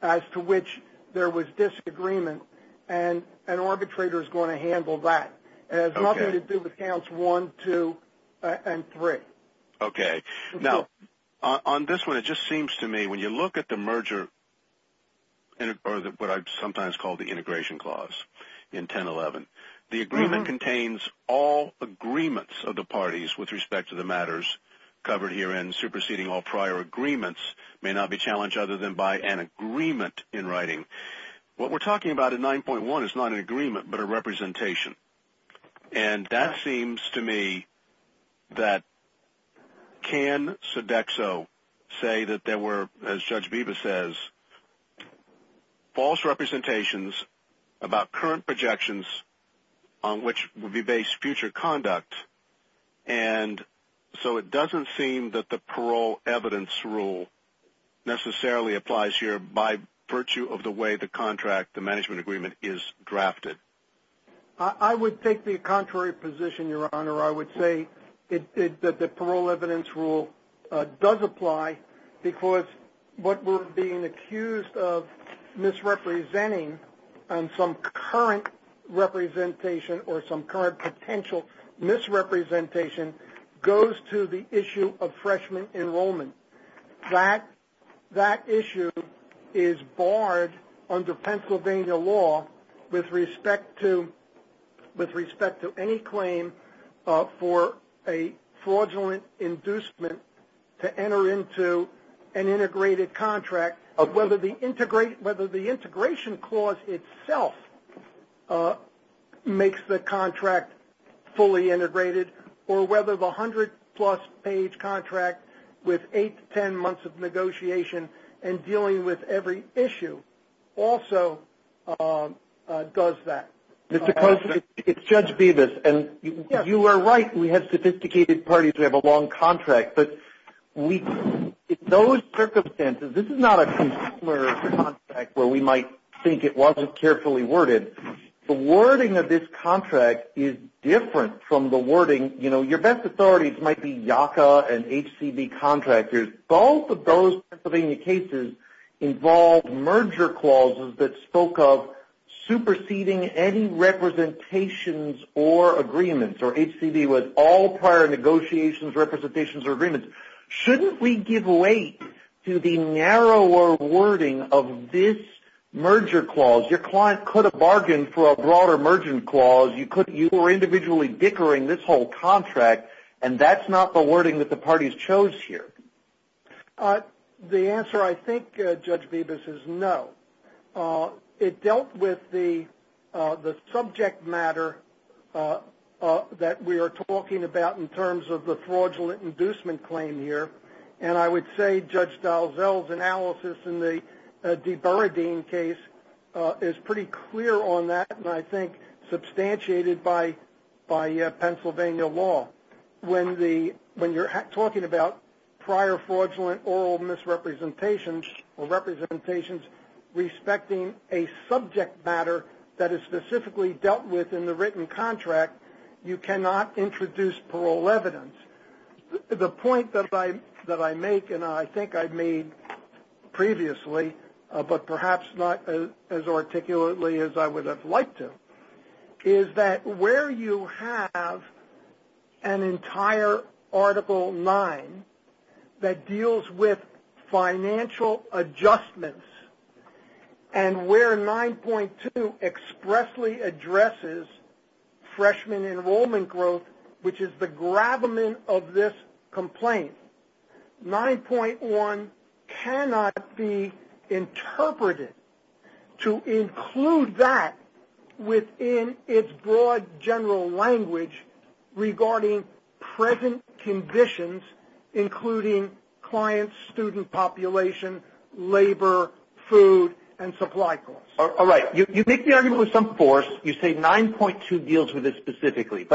as to which there was agreement, and an arbitrator is going to handle that. It has nothing to do with counts one, two, and three. Okay. Now, on this one, it just seems to me when you look at the merger or what I sometimes call the integration clause in 1011, the agreement contains all agreements of the parties with respect to the matters covered here, and superseding all prior agreements may not be challenged other than by an agreement in writing. What we're talking about in 9.1 is not an agreement but a representation, and that seems to me that can Sodexo say that there were, as Judge Beebe says, false representations about current projections on which would be based future conduct, and so it doesn't seem that the parole evidence rule necessarily applies here by virtue of the way the contract, the management agreement, is drafted. I would take the contrary position, Your Honor. I would say that the parole evidence rule does apply because what we're being accused of misrepresenting on some current representation or some current potential misrepresentation goes to the issue of freshman enrollment. That issue is barred under Pennsylvania law with respect to any claim for a fraudulent inducement to enter into an integrated contract, whether the integration clause itself makes the contract fully integrated or whether the 100-plus page contract with eight to 10 months of negotiation and dealing with every issue also does that. Mr. Costa, it's Judge Beebe, and you are right. We have sophisticated parties. We have a long contract. But in those circumstances, this is not a consumer contract where we might think it wasn't carefully worded. The wording of this contract is different from the wording. You know, your best authorities might be YACA and HCB contractors. Both of those Pennsylvania cases involved merger clauses that spoke of superseding any representations or agreements, or HCB was all prior negotiations, representations, or agreements. Shouldn't we give way to the narrower wording of this merger clause? Your client could have bargained for a broader merger clause. You were individually bickering this whole contract, and that's not the wording that the parties chose here. The answer, I think, Judge Beebe, is no. It dealt with the subject matter that we are talking about in terms of the fraudulent inducement claim here, and I would say Judge Dalziel's analysis in the de Bernardin case is pretty clear on that and I think substantiated by Pennsylvania law. When you're talking about prior fraudulent oral misrepresentations or representations respecting a subject matter that is specifically dealt with in the written contract, you cannot introduce parole evidence. The point that I make, and I think I made previously, but perhaps not as articulately as I would have liked to, is that where you have an entire Article 9 that deals with financial adjustments and where 9.2 expressly addresses freshman enrollment growth, which is the gravamen of this complaint, 9.1 cannot be interpreted to include that within its broad general language regarding present conditions, including client-student population, labor, food, and supply costs. All right. You make the argument with some force. You say 9.2 deals with this specifically.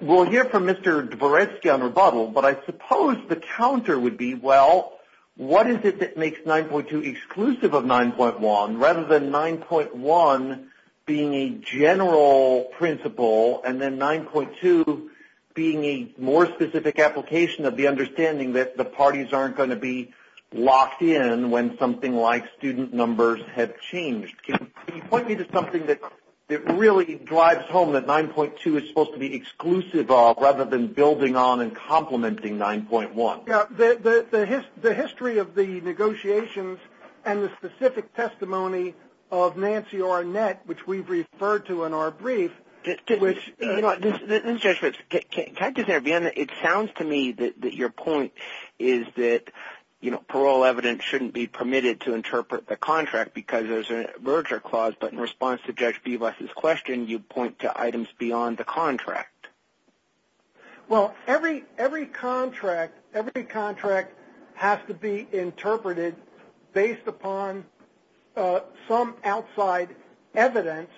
We'll hear from Mr. Dvoretsky on rebuttal, but I suppose the counter would be, well, what is it that makes 9.2 exclusive of 9.1 rather than 9.1 being a general principle and then 9.2 being a more specific application of the understanding that the parties aren't going to be locked in when something like student numbers have changed. Can you point me to something that really drives home that 9.2 is supposed to be exclusive of rather than building on and complementing 9.1? The history of the negotiations and the specific testimony of Nancy Arnett, which we've referred to in our brief, which – Can I just intervene? It sounds to me that your point is that parole evidence shouldn't be permitted to interpret the contract because there's a merger clause, but in response to Judge Vivas' question, you point to items beyond the contract. Well, every contract has to be interpreted based upon some outside evidence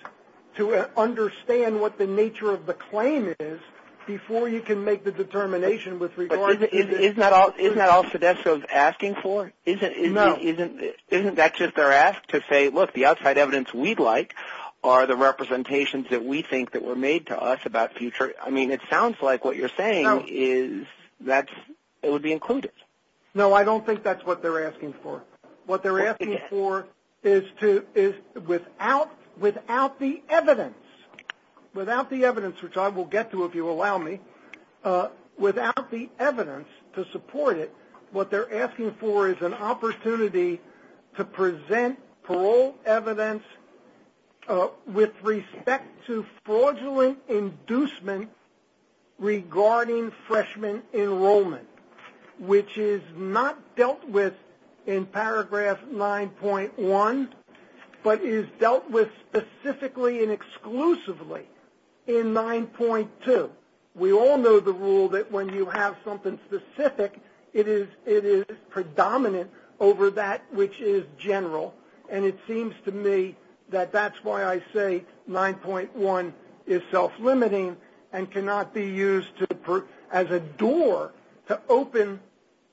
to understand what the nature of the claim is before you can make the determination with regard to – Isn't that all SEDESTA is asking for? No. Isn't that just their ask to say, look, the outside evidence we'd like are the representations that we think that were made to us about future – I mean, it sounds like what you're saying is that it would be included. No, I don't think that's what they're asking for. What they're asking for is without the evidence, which I will get to if you allow me, without the evidence to support it, what they're asking for is an opportunity to present parole evidence with respect to fraudulent inducement regarding freshman enrollment, which is not dealt with in paragraph 9.1, but is dealt with specifically and exclusively in 9.2. We all know the rule that when you have something specific, it is predominant over that which is general, and it seems to me that that's why I say 9.1 is self-limiting and cannot be used as a door to open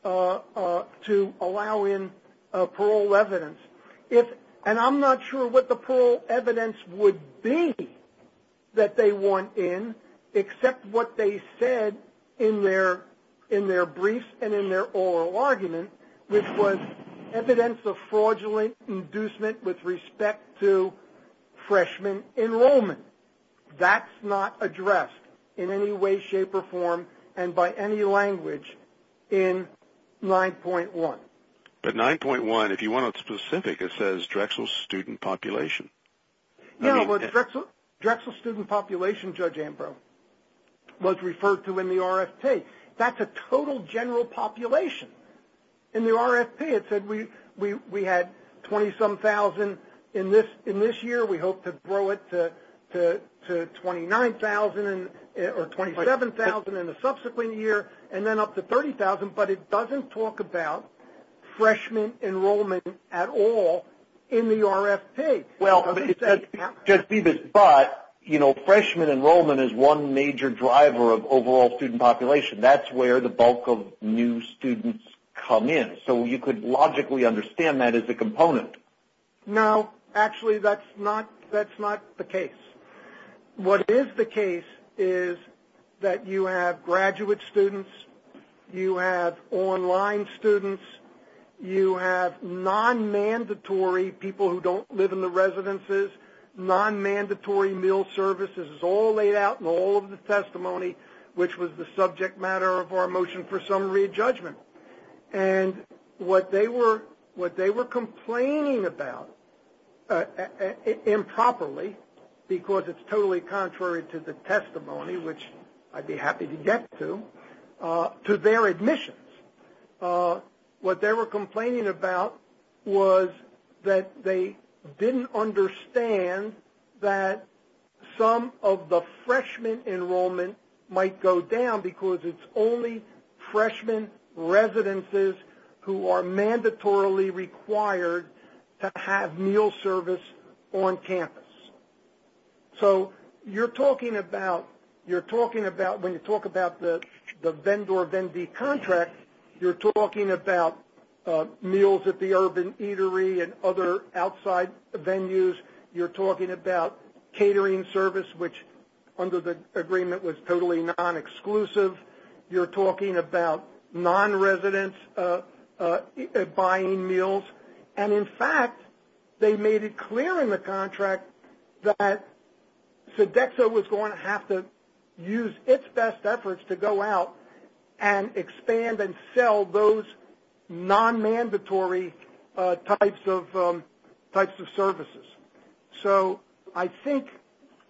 to allow in parole evidence. And I'm not sure what the parole evidence would be that they want in, except what they said in their brief and in their oral argument, which was evidence of fraudulent inducement with respect to freshman enrollment. That's not addressed in any way, shape, or form and by any language in 9.1. But 9.1, if you want it specific, it says Drexel student population. No, Drexel student population, Judge Ambrose, was referred to in the RFP. That's a total general population. In the RFP, it said we had 27,000 in this year. We hope to grow it to 29,000 or 27,000 in the subsequent year and then up to 30,000, but it doesn't talk about freshman enrollment at all in the RFP. Well, Judge Phoebus, but, you know, freshman enrollment is one major driver of overall student population. That's where the bulk of new students come in. So you could logically understand that as a component. No, actually that's not the case. What is the case is that you have graduate students, you have online students, you have non-mandatory people who don't live in the residences, non-mandatory meal services. It's all laid out in all of the testimony, which was the subject matter of our motion for summary of judgment. And what they were complaining about improperly, because it's totally contrary to the testimony, which I'd be happy to get to, to their admissions. What they were complaining about was that they didn't understand that some of the freshman enrollment might go down because it's only freshman residences who are So you're talking about, you're talking about, when you talk about the Vendor Vendee Contract, you're talking about meals at the urban eatery and other outside venues. You're talking about catering service, which under the agreement was totally non-exclusive. You're talking about non-residents buying meals. And, in fact, they made it clear in the contract that Sodexo was going to have to use its best efforts to go out and expand and sell those non-mandatory types of services. So I think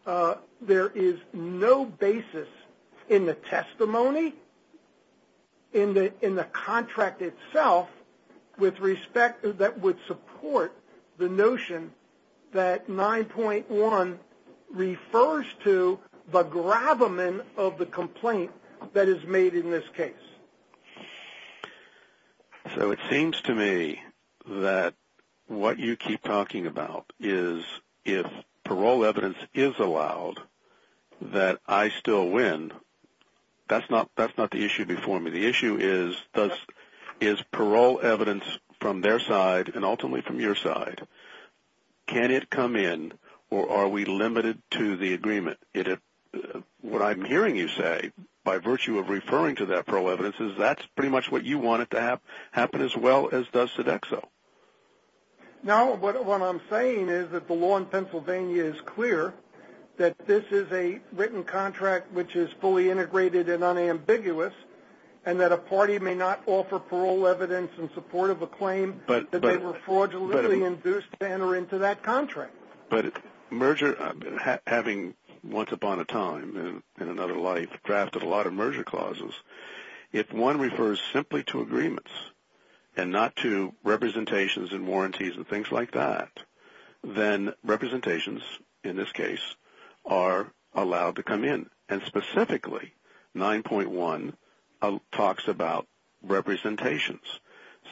there is no basis in the testimony, in the contract itself, with respect that would support the notion that 9.1 refers to the gravamen of the complaint that is made in this case. So it seems to me that what you keep talking about is if parole evidence is allowed, that I still win. That's not the issue before me. The issue is parole evidence from their side and ultimately from your side. Can it come in or are we limited to the agreement? What I'm hearing you say by virtue of referring to that parole evidence is that's pretty much what you want it to happen as well as does Sodexo. No, what I'm saying is that the law in Pennsylvania is clear that this is a written contract which is fully integrated and unambiguous, and that a party may not offer parole evidence in support of a claim that they were fraudulently induced to enter into that contract. But having once upon a time in another life drafted a lot of merger clauses, if one refers simply to agreements and not to representations and warranties and things like that, then representations, in this case, are allowed to come in. And specifically 9.1 talks about representations.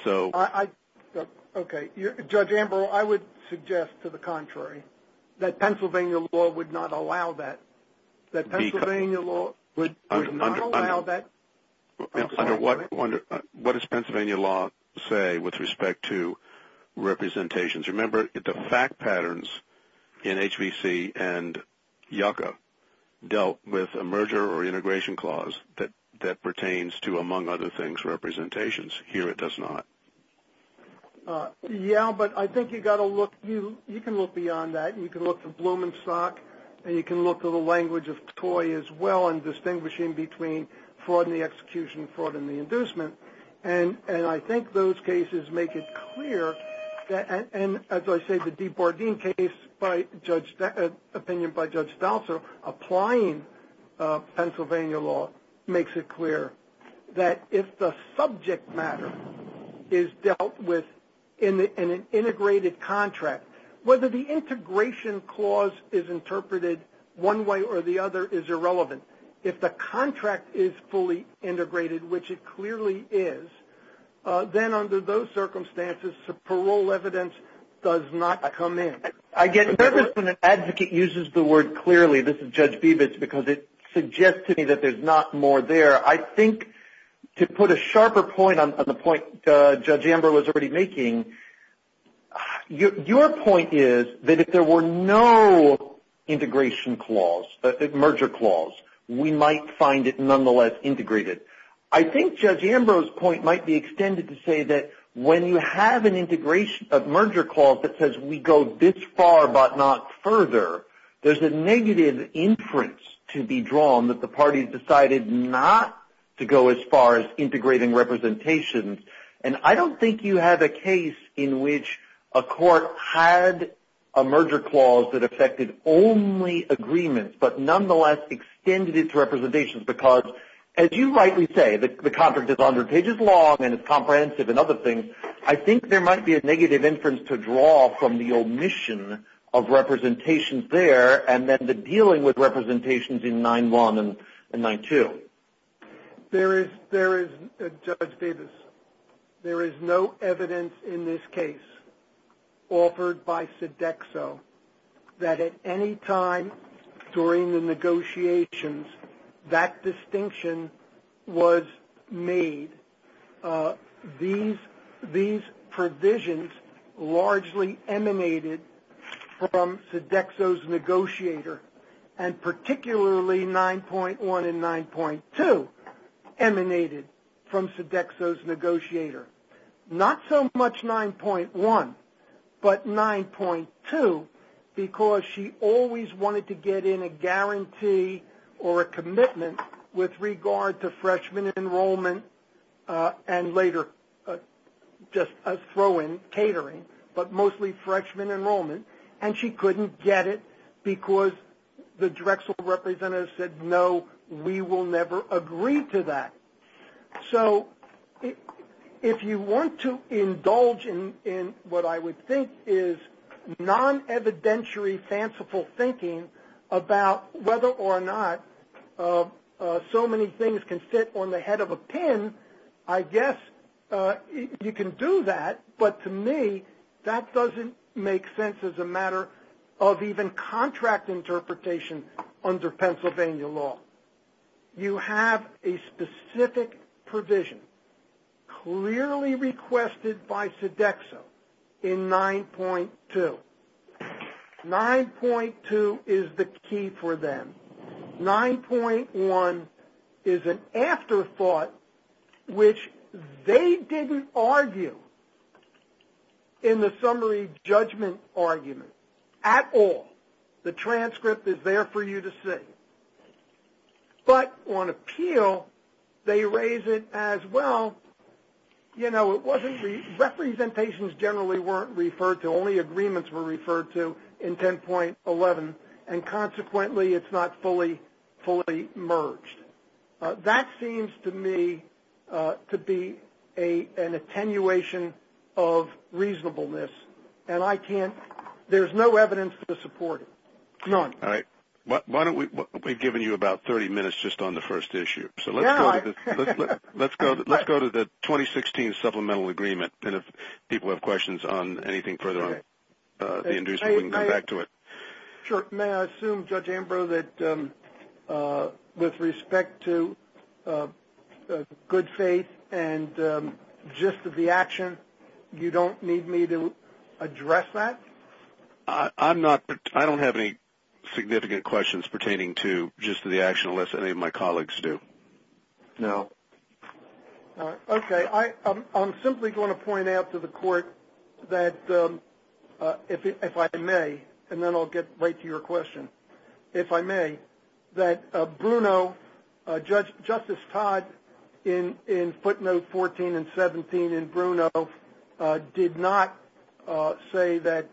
Okay, Judge Ambrose, I would suggest to the contrary, that Pennsylvania law would not allow that. That Pennsylvania law would not allow that. What does Pennsylvania law say with respect to representations? Remember the fact patterns in HBC and Yucca dealt with a merger or integration clause that pertains to, among other things, representations. Here it does not. Yeah, but I think you've got to look. You can look beyond that. You can look to Blumenstock, and you can look to the language of Toye as well in distinguishing between fraud in the execution, fraud in the inducement. And I think those cases make it clear, and as I say, the DeBardin case opinion by Judge Delsa applying Pennsylvania law makes it clear that if the subject matter is dealt with in an integrated contract, whether the integration clause is interpreted one way or the other is irrelevant. If the contract is fully integrated, which it clearly is, then under those circumstances the parole evidence does not come in. I get nervous when an advocate uses the word clearly. This is Judge Bebich, because it suggests to me that there's not more there. I think to put a sharper point on the point Judge Ambrose was already making, your point is that if there were no integration clause, merger clause, we might find it nonetheless integrated. I think Judge Ambrose's point might be extended to say that when you have an integration of merger clause that says we go this far but not further, there's a negative inference to be drawn that the parties decided not to go as far as integrating representations. I don't think you have a case in which a court had a merger clause that affected only agreement but nonetheless extended its representations because, as you rightly say, the contract is 100 pages long and it's comprehensive and other things. I think there might be a negative inference to draw from the omission of representations there and then the dealing with representations in 9-1 and 9-2. There is no evidence in this case offered by Sodexo that at any time during the negotiations that distinction was made. These provisions largely emanated from Sodexo's negotiator and particularly 9-1 and 9-2 emanated from Sodexo's negotiator. Not so much 9-1 but 9-2 because she always wanted to get in a guarantee or a commitment with regard to freshman enrollment and later just as throw-in catering but mostly freshman enrollment. And she couldn't get it because the DREXEL representative said, no, we will never agree to that. So if you want to indulge in what I would think is non-evidentiary fanciful thinking about whether or not so many things can sit on the head of a pen, I guess you can do that. But to me, that doesn't make sense as a matter of even contract interpretation under Pennsylvania law. You have a specific provision clearly requested by Sodexo in 9-2. 9-2 is the key for them. 9-1 is an afterthought which they didn't argue in the summary judgment argument at all. The transcript is there for you to see. But on appeal, they raise it as well. You know, representations generally weren't referred to. Only agreements were referred to in 10.11. And consequently, it's not fully merged. That seems to me to be an attenuation of reasonableness. And I can't – there's no evidence to support it, none. All right. Why don't we be giving you about 30 minutes just on the first issue? So let's go to the 2016 supplemental agreement. And if people have questions on anything further on the injuries, we can come back to it. Sure. May I assume, Judge Ambrose, that with respect to good faith and gist of the action, you don't need me to address that? I don't have any significant questions pertaining to gist of the action, unless any of my colleagues do. No. Okay. I'm simply going to point out to the court that, if I may, and then I'll get right to your question, if I may, that Bruno – Justice Todd, in footnote 14 and 17 in Bruno, did not say that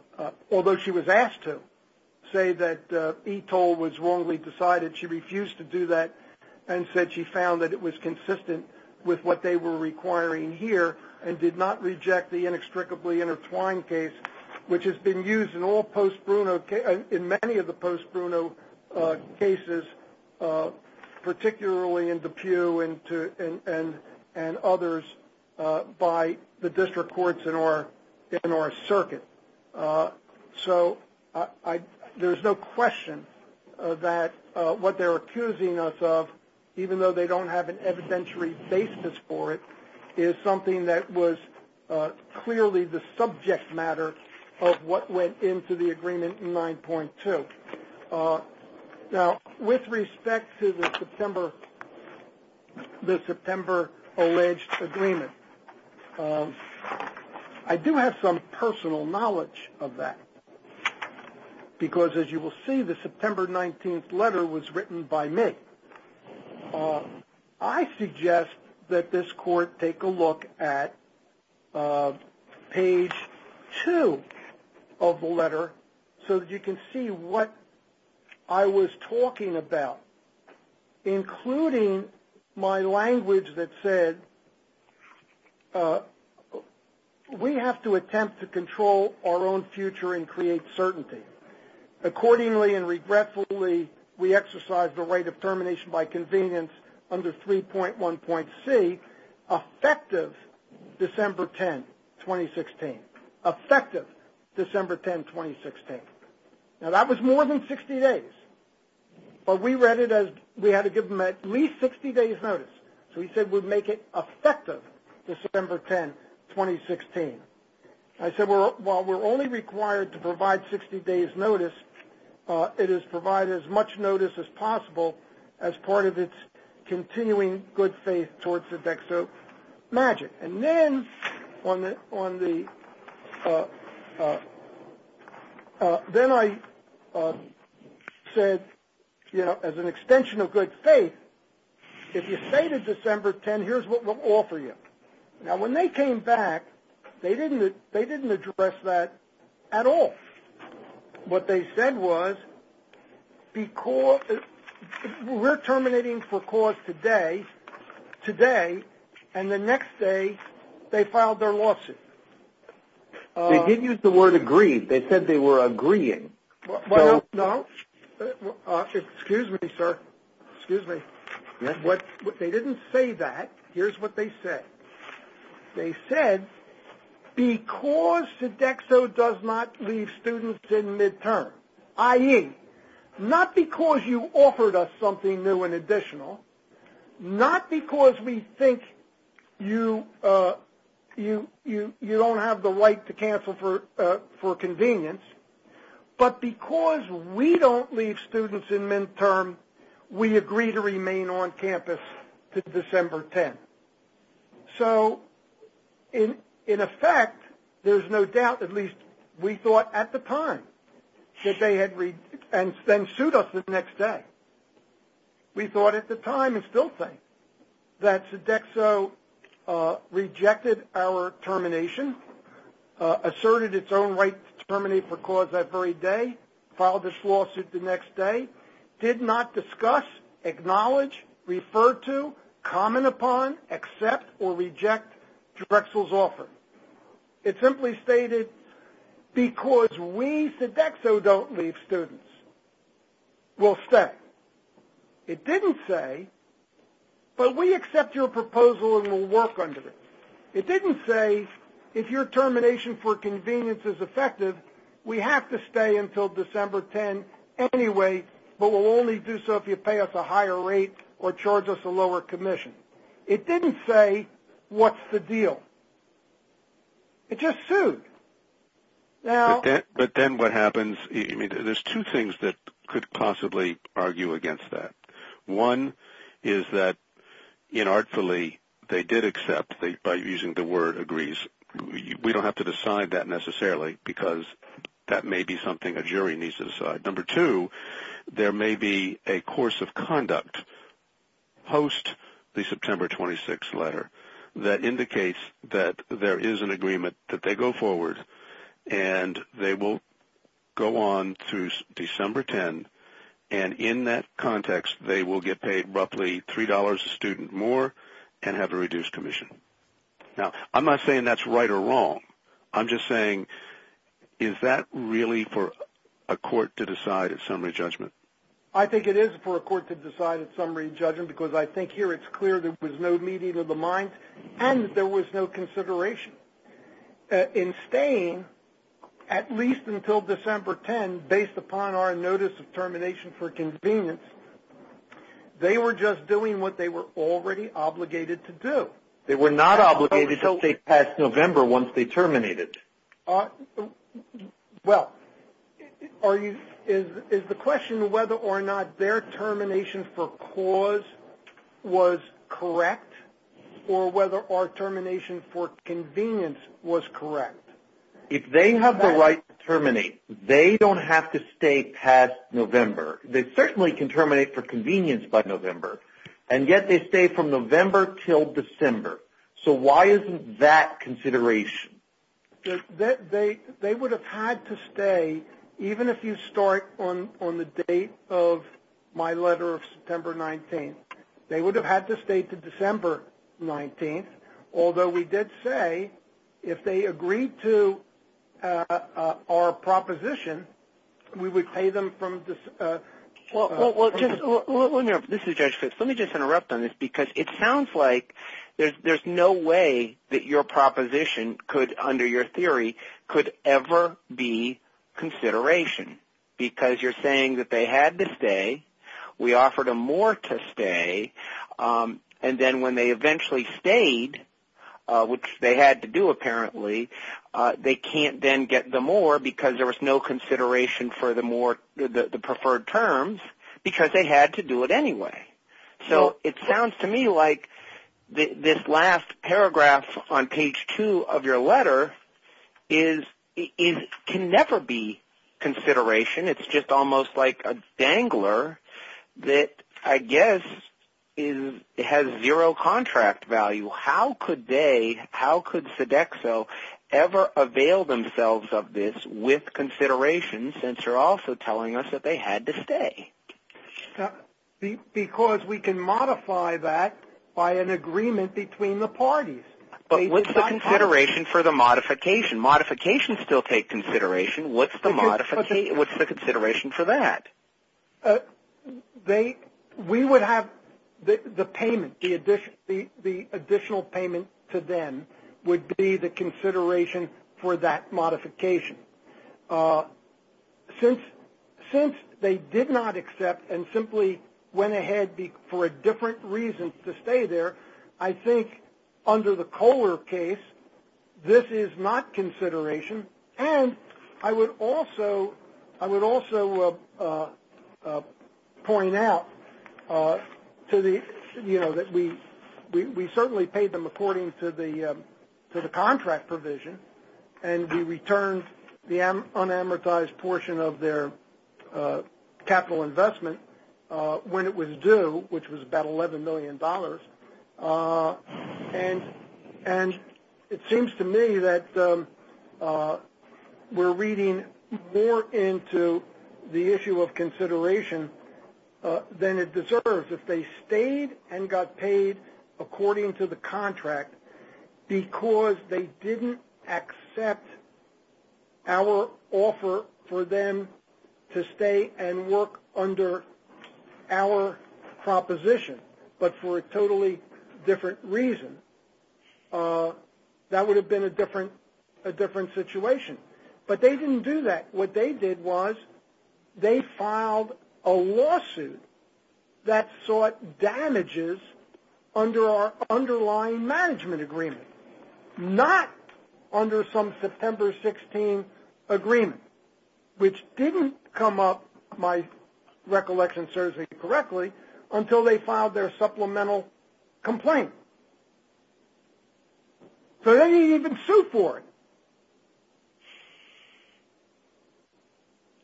– although she was asked to – say that ETOL was wrongly decided. She refused to do that and said she found that it was consistent with what they were requiring here and did not reject the inextricably intertwined case, which has been used in all post-Bruno – in many of the post-Bruno cases, particularly in DePue and others, by the district courts in our circuit. So there's no question that what they're accusing us of, even though they don't have an evidentiary basis for it, is something that was clearly the subject matter of what went into the agreement in 9.2. Now, with respect to the September alleged agreement, I do have some personal knowledge of that, because, as you will see, the September 19th letter was written by me. I suggest that this court take a look at page 2 of the letter so that you can see what I was talking about, including my language that said, we have to attempt to control our own future and create certainty. Accordingly and regretfully, we exercise the right of termination by convenience under 3.1.C, effective December 10, 2016. Effective December 10, 2016. Now, that was more than 60 days, but we read it as we had to give them at least 60 days' notice. So we said we'd make it effective December 10, 2016. I said, while we're only required to provide 60 days' notice, it is provided as much notice as possible as part of its continuing good faith towards the DexO magic. And then I said, as an extension of good faith, if you say to December 10, here's what we'll offer you. Now, when they came back, they didn't address that at all. What they said was, we're terminating for cause today, and the next day they filed their lawsuit. They didn't use the word agree. They said they were agreeing. No. Excuse me, sir. Excuse me. They didn't say that. Here's what they said. They said, because the DexO does not leave students in midterm, i.e., not because you offered us something new and additional, not because we think you don't have the right to cancel for convenience, but because we don't leave students in midterm, we agree to remain on campus until December 10. So, in effect, there's no doubt, at least we thought at the time, that they had sued us the next day. We thought at the time, and still think, that the DexO rejected our termination, asserted its own right to terminate for cause that very day, filed its lawsuit the next day, did not discuss, acknowledge, refer to, comment upon, accept, or reject Drexel's offer. It simply stated, because we, the DexO, don't leave students. We'll step. It didn't say, but we accept your proposal and we'll work under it. It didn't say, if your termination for convenience is effective, we have to stay until December 10 anyway, but we'll only do so if you pay us a higher rate or charge us a lower commission. It didn't say, what's the deal? It just sued. But then what happens, there's two things that could possibly argue against that. One is that, inartfully, they did accept, by using the word agrees. We don't have to decide that necessarily, because that may be something a jury needs to decide. Number two, there may be a course of conduct post the September 26 letter that indicates that there is an agreement, that they go forward and they will go on through December 10, and in that context, they will get paid roughly $3 a student more and have a reduced commission. Now, I'm not saying that's right or wrong. I'm just saying, is that really for a court to decide at summary judgment? I think it is for a court to decide at summary judgment, because I think here it's clear there was no meeting of the minds and there was no consideration. In staying, at least until December 10, based upon our notice of termination for convenience, they were just doing what they were already obligated to do. They were not obligated to stay past November once they terminated. Well, is the question whether or not their termination for cause was correct, or whether our termination for convenience was correct? If they have the right to terminate, they don't have to stay past November. They certainly can terminate for convenience by November, and yet they stay from November until December. So why isn't that consideration? They would have had to stay, even if you start on the date of my letter of September 19. They would have had to stay to December 19, although we did say if they agreed to our proposition, we would pay them from December. Well, let me just interrupt on this, because it sounds like there's no way that your proposition, under your theory, could ever be consideration, because you're saying that they had to stay, we offered them more to stay, and then when they eventually stayed, which they had to do apparently, they can't then get the more because there was no consideration for the preferred terms, because they had to do it anyway. So it sounds to me like this last paragraph on page two of your letter can never be consideration. It's just almost like a dangler that I guess has zero contract value. How could they, how could Sodexo ever avail themselves of this with consideration, since you're also telling us that they had to stay? Because we can modify that by an agreement between the parties. But what's the consideration for the modification? Modifications still take consideration. What's the consideration for that? We would have the payment, the additional payment to them, would be the consideration for that modification. Since they did not accept and simply went ahead for a different reason to stay there, I think under the Kohler case, this is not consideration, and I would also point out that we certainly paid them according to the contract provision and we returned the unamortized portion of their capital investment when it was due, which was about $11 million. And it seems to me that we're reading more into the issue of consideration than it deserves. If they stayed and got paid according to the contract because they didn't accept our offer for them to stay and work under our proposition, but for a totally different reason, that would have been a different situation. But they didn't do that. What they did was they filed a lawsuit that sought damages under our underlying management agreement, not under some September 16 agreement, which didn't come up, my recollection serves me correctly, until they filed their supplemental complaint. So they didn't even sue for it.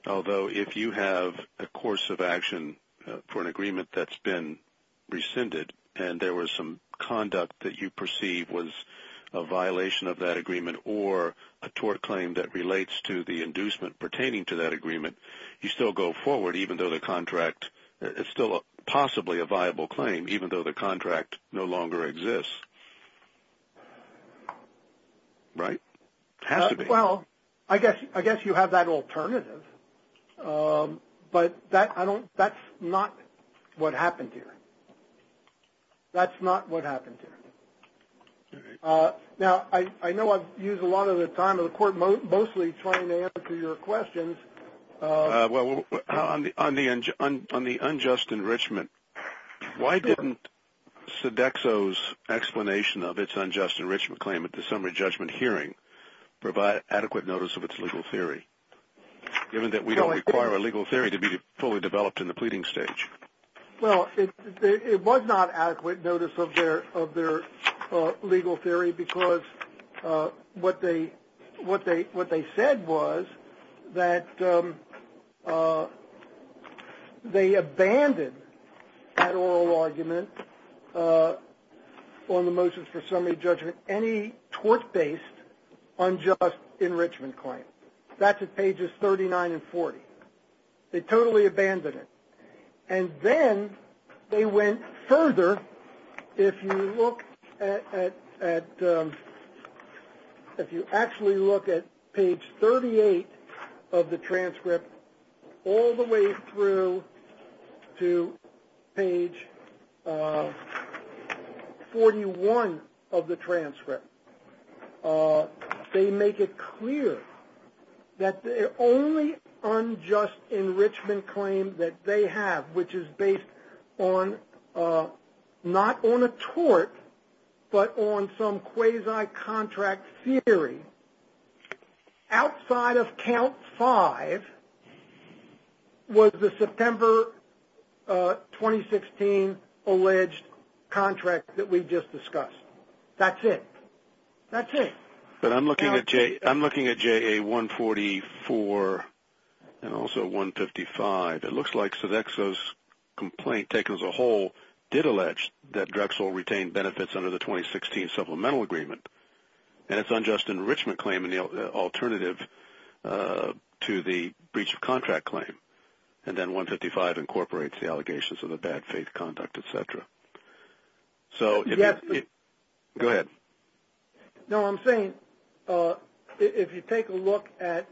Although if you have a course of action for an agreement that's been rescinded and there was some conduct that you perceive was a violation of that agreement or a tort claim that relates to the inducement pertaining to that agreement, you still go forward even though the contract is still possibly a viable claim, even though the contract no longer exists. Right? It has to be. Well, I guess you have that alternative. But that's not what happened here. That's not what happened here. Now, I know I've used a lot of the time of the court mostly trying to answer your questions. On the unjust enrichment, why didn't Sodexo's explanation of its unjust enrichment claim at the summary judgment hearing provide adequate notice of its legal theory, given that we don't require a legal theory to be fully developed in the pleading stage? Well, it was not adequate notice of their legal theory because what they said was that they abandoned that oral argument on the motions for summary judgment any tort-based unjust enrichment claim. That's at pages 39 and 40. They totally abandoned it. And then they went further. If you look at page 38 of the transcript all the way through to page 41 of the transcript, they make it clear that the only unjust enrichment claim that they have, which is based not on a tort but on some quasi-contract theory, outside of count five was the September 2016 alleged contract that we just discussed. That's it. That's it. But I'm looking at JA-144 and also 155. It looks like Sodexo's complaint taken as a whole did allege that Drexel retained benefits under the 2016 supplemental agreement. And it's unjust enrichment claim in the alternative to the breach of contract claim. And then 155 incorporates the allegations of a bad faith conduct, et cetera. Go ahead. No, I'm saying if you take a look at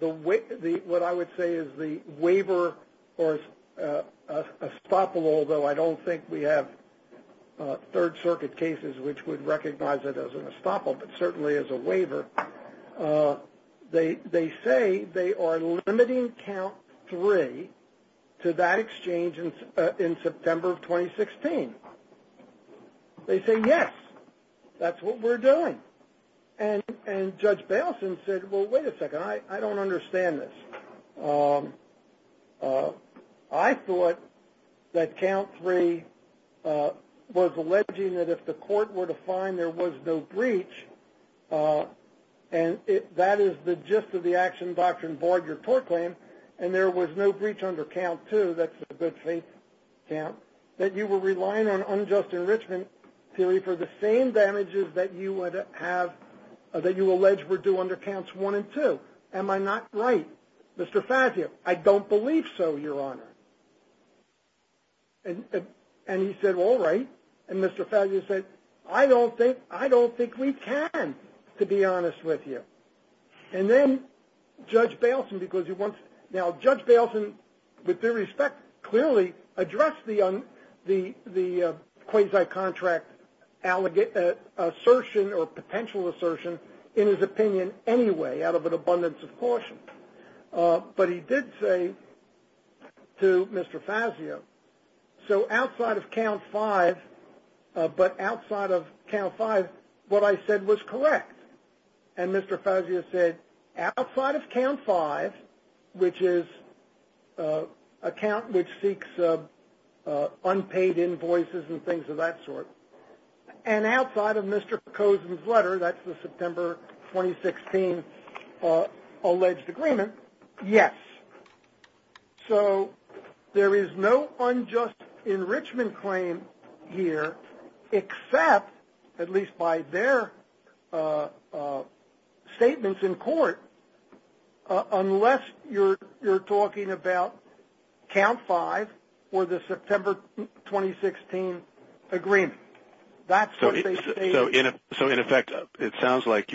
what I would say is the waiver or estoppel, although I don't think we have Third Circuit cases which would recognize it as an estoppel but certainly as a waiver, they say they are limiting count three to that exchange in September of 2016. They say, yes, that's what we're doing. And Judge Balson said, well, wait a second, I don't understand this. I thought that count three was alleging that if the court were to find there was no breach and that is the gist of the action doctrine void your tort claim and there was no breach under count two, that's a good faith count, that you were relying on unjust enrichment theory for the same damages that you alleged were due under counts one and two. Am I not right? Mr. Fazio, I don't believe so, Your Honor. And he said, all right. And Mr. Fazio said, I don't think we can, to be honest with you. And then Judge Balson, with due respect, clearly addressed the quasi-contract assertion or potential assertion in his opinion anyway out of an abundance of caution. But he did say to Mr. Fazio, so outside of count five, but outside of count five, what I said was correct. And Mr. Fazio said, outside of count five, which is a count which seeks unpaid invoices and things of that sort, and outside of Mr. Cozen's letter, that's the September 2016 alleged agreement, yes. So there is no unjust enrichment claim here except, at least by their statements in court, unless you're talking about count five or the September 2016 agreement. So in effect, it sounds like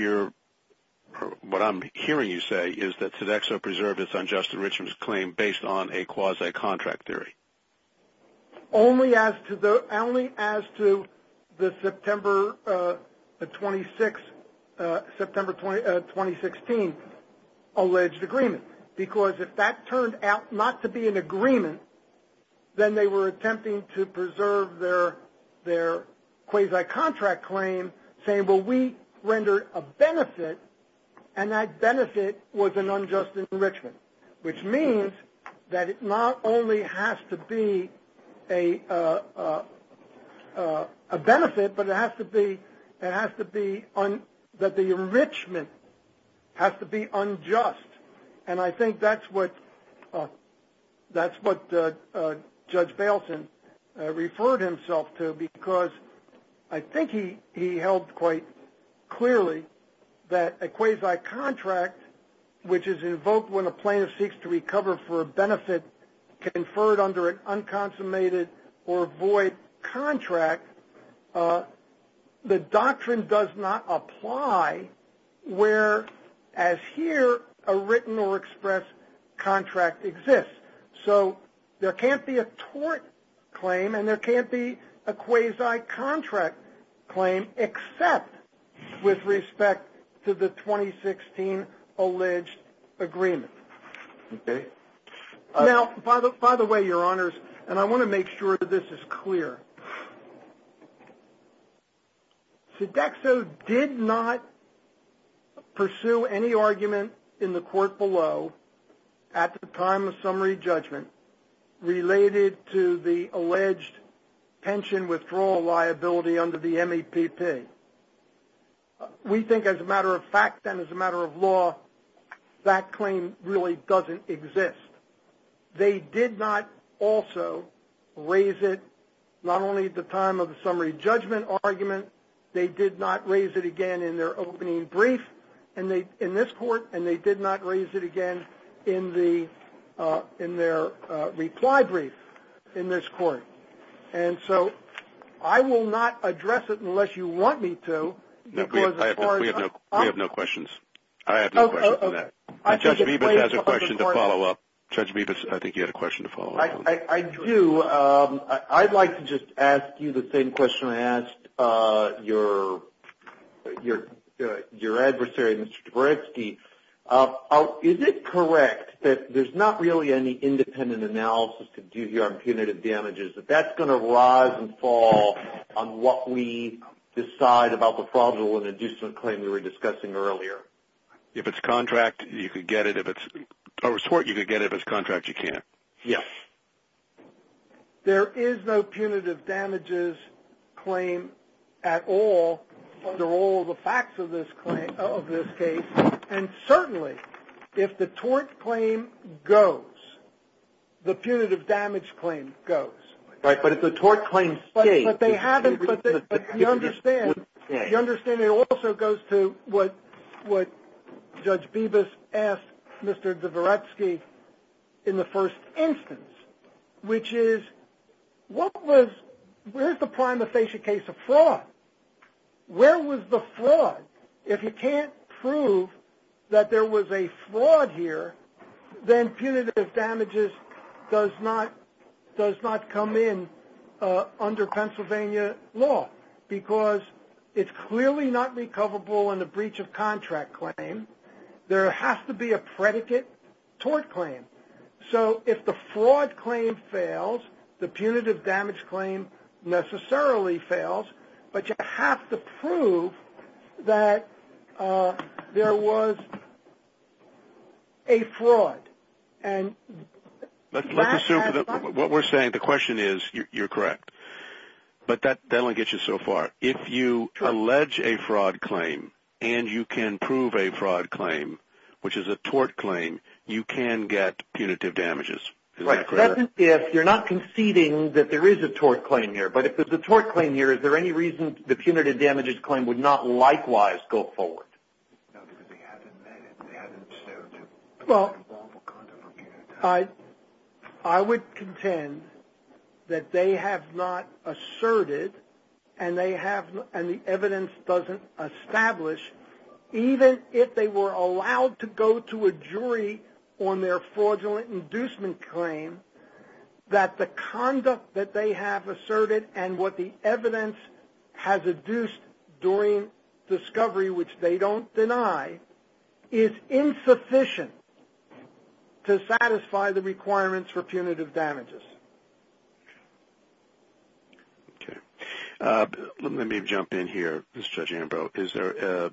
what I'm hearing you say is that Sodexo preserved its unjust enrichment claim based on a quasi-contract theory. Only as to the September 2016 alleged agreement, because if that turned out not to be an agreement, then they were attempting to preserve their quasi-contract claim, saying, well, we rendered a benefit, and that benefit was an unjust enrichment, which means that it not only has to be a benefit, but it has to be that the enrichment has to be unjust. And I think that's what Judge Bailson referred himself to, because I think he held quite clearly that a quasi-contract, which is invoked when a plaintiff seeks to recover for a benefit conferred under an unconsummated or void contract, the doctrine does not apply where, as here, a written or expressed contract exists. So there can't be a tort claim, and there can't be a quasi-contract claim, except with respect to the 2016 alleged agreement. Now, by the way, Your Honors, and I want to make sure that this is clear, Sodexo did not pursue any argument in the court below at the time of summary judgment related to the alleged pension withdrawal liability under the MAPP. We think as a matter of fact and as a matter of law, that claim really doesn't exist. They did not also raise it not only at the time of the summary judgment argument, they did not raise it again in their opening brief in this court, and they did not raise it again in their reply brief in this court. And so I will not address it unless you want me to. We have no questions. I have no questions for that. And Judge Rebus has a question to follow up. Judge Rebus, I think you had a question to follow up on. I do. I'd like to just ask you the same question I asked your adversary, Mr. Dvoretsky. Is it correct that there's not really any independent analysis to do here on punitive damages, that that's going to rise and fall on what we decide about the fraudulent and inducement claim we were discussing earlier? If it's contract, you could get it. If it's over sort, you could get it. If it's contract, you can't. Yes. There is no punitive damages claim at all under all the facts of this case. And certainly, if the tort claim goes, the punitive damage claim goes. Right, but if the tort claim stays. You understand it also goes to what Judge Rebus asked Mr. Dvoretsky in the first instance, which is, what was the primacy case of fraud? Where was the fraud? If you can't prove that there was a fraud here, then punitive damages does not come in under Pennsylvania law because it's clearly not recoverable in a breach of contract claim. There has to be a predicate tort claim. So if the fraud claim fails, the punitive damage claim necessarily fails, but you have to prove that there was a fraud. Let's assume that what we're saying, the question is, you're correct. But that only gets you so far. If you allege a fraud claim and you can prove a fraud claim, which is a tort claim, you can get punitive damages. That's if you're not conceding that there is a tort claim here, but if there's a tort claim here, is there any reason the punitive damages claim would not likewise go forward? I would contend that they have not asserted and the evidence doesn't establish, even if they were allowed to go to a jury on their fraudulent inducement claim, that the conduct that they have asserted and what the evidence has induced during discovery, which they don't deny, is insufficient to satisfy the requirements for punitive damages. Let me jump in here, Judge Ambrose. Is there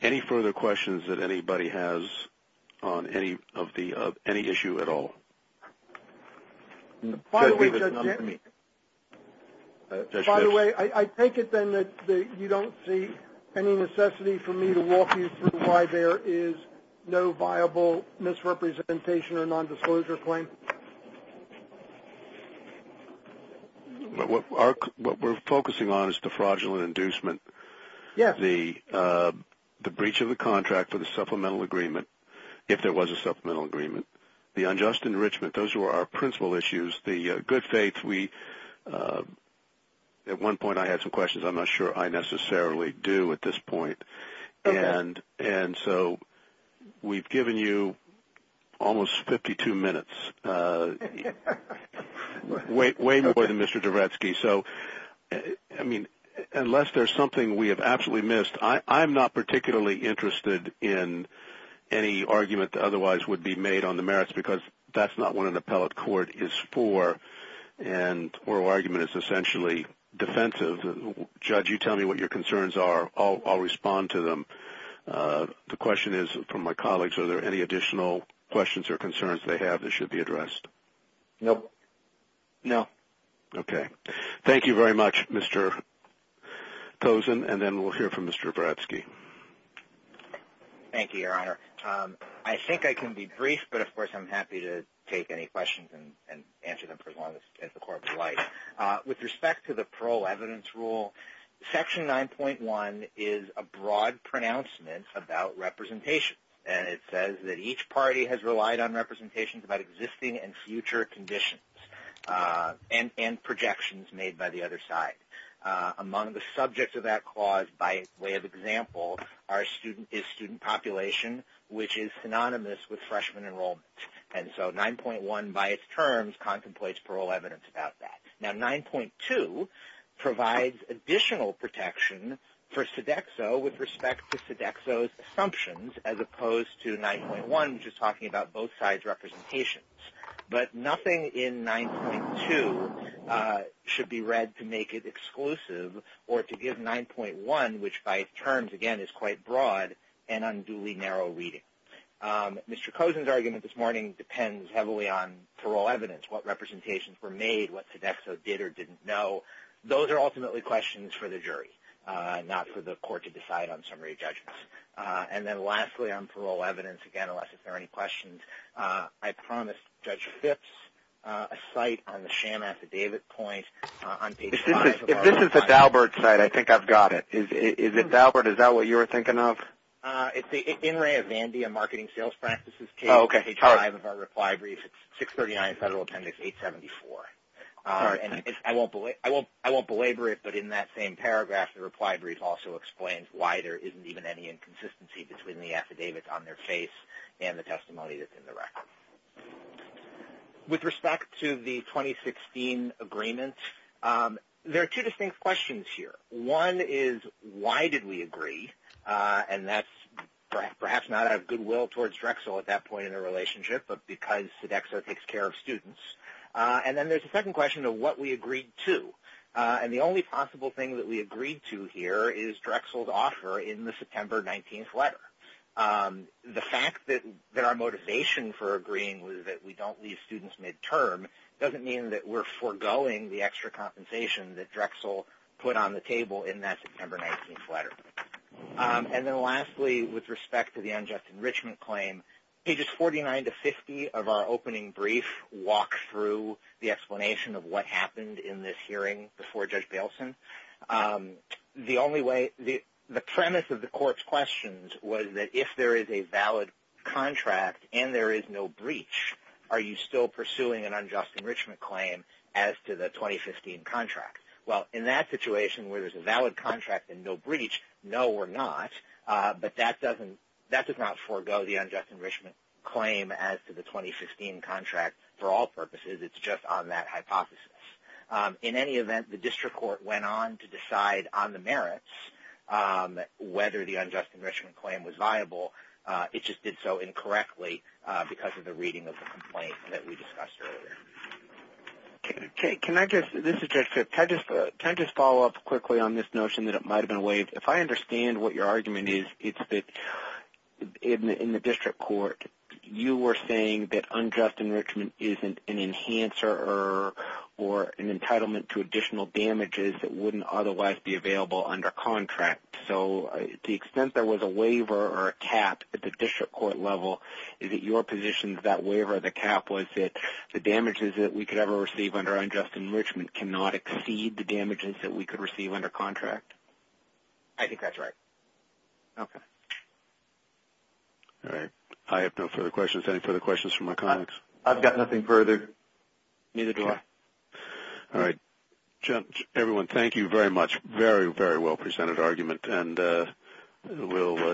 any further questions that anybody has on any issue at all? By the way, I take it then that you don't see any necessity for me to walk you through why there is no viable misrepresentation or nondisclosure claim? What we're focusing on is the fraudulent inducement, the breach of the contract for the supplemental agreement, if there was a supplemental agreement, the unjust enrichment. Those were our principal issues, the good faith. At one point, I had some questions I'm not sure I necessarily do at this point, and so we've given you almost 52 minutes, way more than Mr. Dvoretsky. Unless there's something we have absolutely missed, I'm not particularly interested in any argument that otherwise would be made on the merits because that's not what an appellate court is for, and oral argument is essentially defensive. Judge, you tell me what your concerns are. I'll respond to them. The question is from my colleagues, are there any additional questions or concerns they have that should be addressed? No. No. Okay. Thank you very much, Mr. Tozin, and then we'll hear from Mr. Dvoretsky. Thank you, Your Honor. I think I can be brief, but of course I'm happy to take any questions and answer them for as long as the court would like. With respect to the parole evidence rule, Section 9.1 is a broad pronouncement about representation, and it says that each party has relied on representations about existing and future conditions and projections made by the other side. Among the subjects of that clause, by way of example, is student population, which is synonymous with freshman enrollment, and so 9.1 by its terms contemplates parole evidence about that. Now, 9.2 provides additional protection for Sodexo with respect to Sodexo's assumptions as opposed to 9.1, which is talking about both sides' representations, but nothing in 9.2 should be read to make it exclusive or to give 9.1, which by its terms, again, is quite broad and unduly narrow reading. Mr. Kozin's argument this morning depends heavily on parole evidence, what representations were made, what Sodexo did or didn't know. Those are ultimately questions for the jury, not for the court to decide on summary judgments. And then lastly, on parole evidence, again, unless there are any questions, I promised Judge Phipps a site on the sham affidavit point on page 5. If this is the Daubert site, I think I've got it. Is it Daubert? Is that what you were thinking of? It's the In Re of Vandia Marketing Sales Practices case, page 5 of our reply brief. It's 639 Federal Appendix 874. And I won't belabor it, but in that same paragraph, the reply brief also explains why there isn't even any inconsistency between the affidavits on their face and the testimony that's in the record. With respect to the 2016 agreement, there are two distinct questions here. One is, why did we agree? And that's perhaps not out of goodwill towards Drexel at that point in the relationship, but because Sodexo takes care of students. And then there's a second question of what we agreed to. And the only possible thing that we agreed to here is Drexel's offer in the September 19th letter. The fact that our motivation for agreeing was that we don't leave students midterm doesn't mean that we're foregoing the extra compensation that Drexel put on the table in that September 19th letter. And then lastly, with respect to the unjust enrichment claim, pages 49 to 50 of our opening brief walk through the explanation of what happened in this hearing before Judge Bailson. The premise of the court's questions was that if there is a valid contract and there is no breach, are you still pursuing an unjust enrichment claim as to the 2015 contract? Well, in that situation where there's a valid contract and no breach, no we're not. But that does not forego the unjust enrichment claim as to the 2015 contract for all purposes. It's just on that hypothesis. In any event, the district court went on to decide on the merits, whether the unjust enrichment claim was viable. It just did so incorrectly because of the reading of the complaint that we discussed earlier. Can I just follow up quickly on this notion that it might have been waived? If I understand what your argument is, it's that in the district court you were saying that unjust enrichment isn't an enhancer or an entitlement to additional damages that wouldn't otherwise be available under contract. So to the extent there was a waiver or a cap at the district court level, is it your position that that waiver or the cap was that the damages that we could ever receive under unjust enrichment cannot exceed the damages that we could receive under contract? I think that's right. Okay. All right. I have no further questions. Any further questions from my colleagues? I've got nothing further. Neither do I. All right. Everyone, thank you very much. Very, very well presented argument.